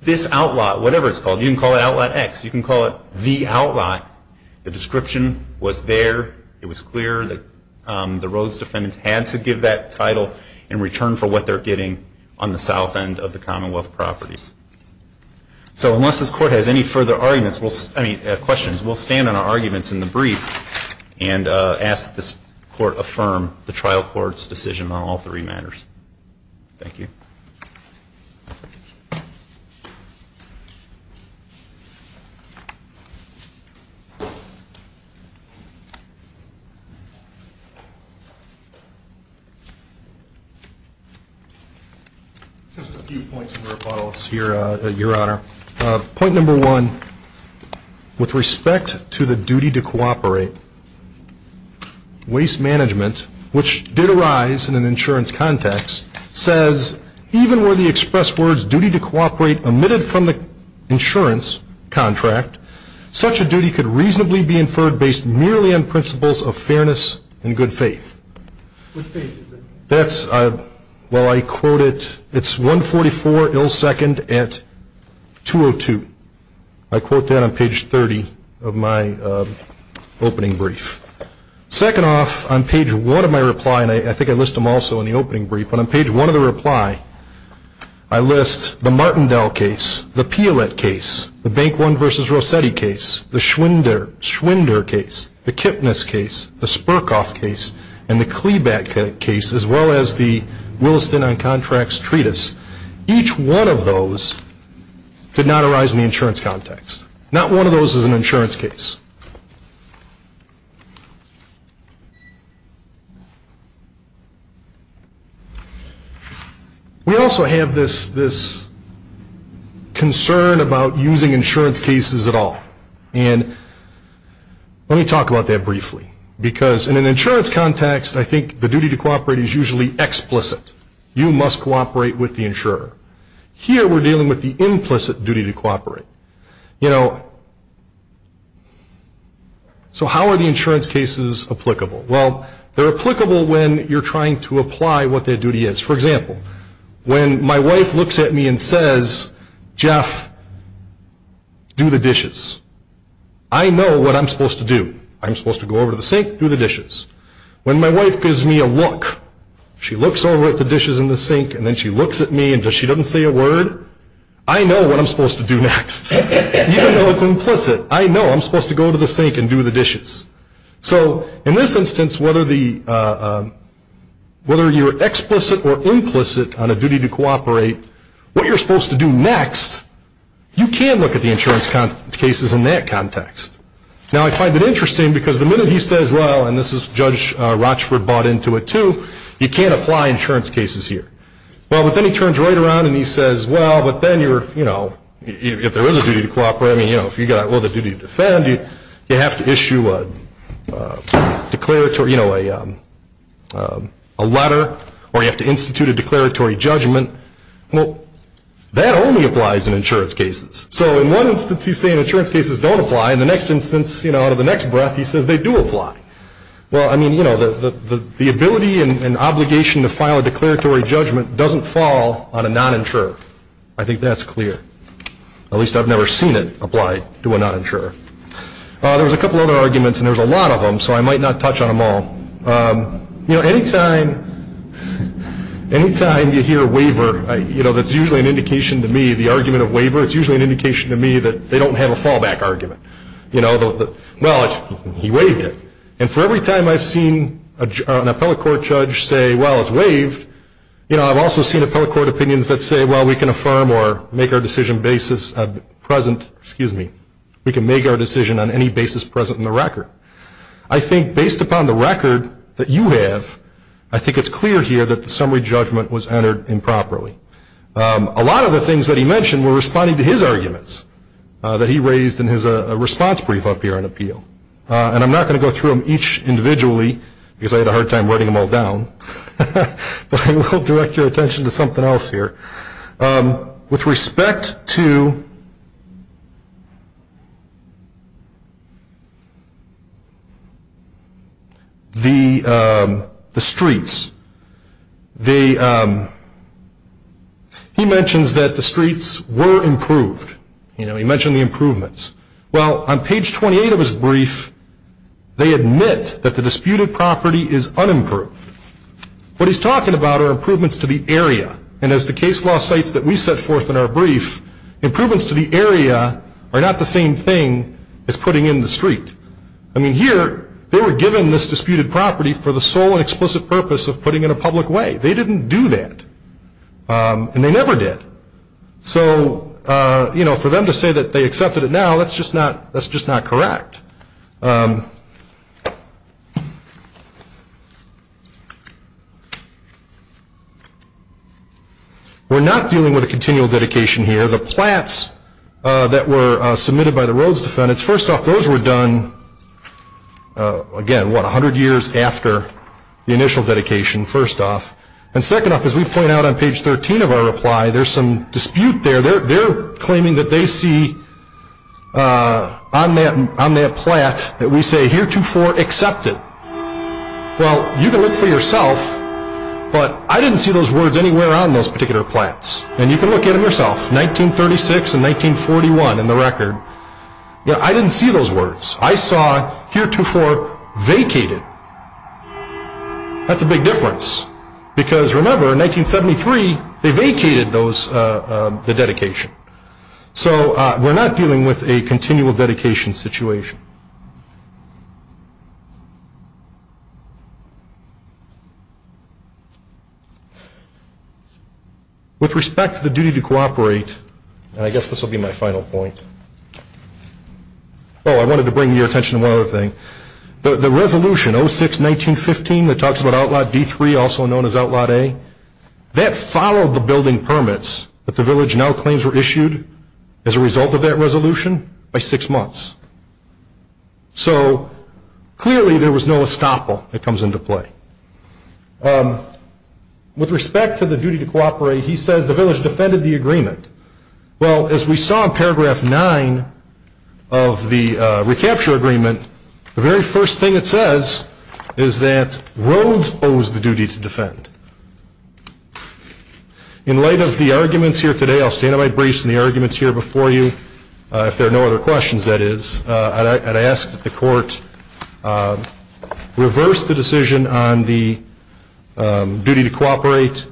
This outlot, whatever it's called, you can call it Outlot X, you can call it the outlot. The description was there, it was clear that the Rhodes defendants had to give that title in return for what they're getting on the south end of the Commonwealth properties. So unless this court has any further questions, we'll stand on our arguments in the brief and ask that this court affirm the trial court's decision on all three matters. Thank you. Just a few points of rebuttals here, Your Honor. Point number one, with respect to the duty to cooperate, waste management, which did arise in an insurance context, says, even were the expressed words duty to cooperate omitted from the insurance contract, such a duty could reasonably be inferred based merely on principles of fairness and good faith. That's, well, I quote it, it's 144 ill second at 202. I quote that on page 30 of my opening brief. Second off, on page one of my reply, and I think I list them also in the opening brief, but on page one of the reply, I list the Martindale case, the Piolet case, the Bank One versus Rossetti case, the Schwinder case, the Kipnis case, the Spurkoff case, and the Kleback case, as well as the Williston on Contracts Treatise. Each one of those did not arise in the insurance context. Not one of those is an insurance case. We also have this concern about using insurance cases at all, and let me talk about that briefly, because in an insurance context, I think the duty to cooperate is usually explicit. You must cooperate with the insurer. Here we're dealing with the implicit duty to cooperate. You know, so how are the insurance cases applicable? Well, they're applicable when you're trying to apply what their duty is. For example, when my wife looks at me and says, Jeff, do the dishes, I know what I'm supposed to do. I'm supposed to go over to the sink, do the dishes. When my wife gives me a look, she looks over at the dishes in the sink, and then she looks at me and she doesn't say a word, I know what I'm supposed to do next. Even though it's implicit, I know I'm supposed to go to the sink and do the dishes. So in this instance, whether you're explicit or implicit on a duty to cooperate, what you're supposed to do next, you can look at the insurance cases in that context. Now, I find that interesting because the minute he says, well, and this is Judge Rochford bought into it too, you can't apply insurance cases here. Well, but then he turns right around and he says, well, but then you're, you know, if there is a duty to cooperate, I mean, you know, if you've got all the duty to defend, you have to issue a declaratory, you know, a letter, or you have to institute a declaratory judgment. Well, that only applies in insurance cases. So in one instance he's saying insurance cases don't apply, and the next instance, you know, out of the next breath, he says they do apply. Well, I mean, you know, the ability and obligation to file a declaratory judgment doesn't fall on a non-insurer. I think that's clear. At least I've never seen it applied to a non-insurer. There was a couple other arguments, and there was a lot of them, so I might not touch on them all. You know, anytime you hear a waiver, you know, that's usually an indication to me, the argument of waiver, it's usually an indication to me that they don't have a fallback argument. You know, well, he waived it. And for every time I've seen an appellate court judge say, well, it's waived, you know, I've also seen appellate court opinions that say, well, we can affirm or make our decision basis present, excuse me, we can make our decision on any basis present in the record. I think based upon the record that you have, I think it's clear here that the summary judgment was entered improperly. A lot of the things that he mentioned were responding to his arguments that he raised in his response brief up here on appeal. And I'm not going to go through them each individually because I had a hard time writing them all down, but I will direct your attention to something else here. With respect to the streets, he mentions that the streets were improved. You know, he mentioned the improvements. Well, on page 28 of his brief, they admit that the disputed property is unimproved. What he's talking about are improvements to the area. And as the case law cites that we set forth in our brief, improvements to the area are not the same thing as putting in the street. I mean, here they were given this disputed property for the sole and explicit purpose of putting it in a public way. They didn't do that. And they never did. So, you know, for them to say that they accepted it now, that's just not correct. We're not dealing with a continual dedication here. The plats that were submitted by the Rhodes defendants, first off, those were done, again, what, 100 years after the initial dedication, first off. And second off, as we point out on page 13 of our reply, there's some dispute there. They're claiming that they see on that plat that we say heretofore accepted. Well, you can look for yourself, but I didn't see those words anywhere on those particular plats. And you can look at them yourself, 1936 and 1941 in the record. Yeah, I didn't see those words. I saw heretofore vacated. That's a big difference. Because, remember, in 1973, they vacated the dedication. So we're not dealing with a continual dedication situation. With respect to the duty to cooperate, and I guess this will be my final point. Oh, I wanted to bring your attention to one other thing. The resolution, 06-1915, that talks about Outlaw D3, also known as Outlaw A, that followed the building permits that the village now claims were issued as a result of that resolution by six months. So, clearly, there was no estoppel that comes into play. With respect to the duty to cooperate, he says the village defended the agreement. Well, as we saw in paragraph 9 of the recapture agreement, the very first thing it says is that Rhodes owes the duty to defend. In light of the arguments here today, I'll stand on my brace in the arguments here before you, if there are no other questions, that is. I'd ask that the court reverse the decision on the duty to cooperate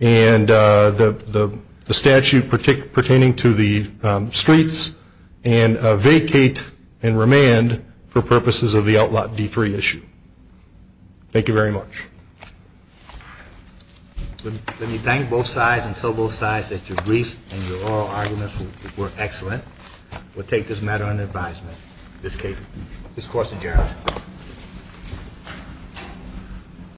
and the statute pertaining to the streets and vacate and remand for purposes of the Outlaw D3 issue. Thank you very much. Let me thank both sides and tell both sides that your brief and your oral arguments were excellent. We'll take this matter under advisement. This case is court adjourned.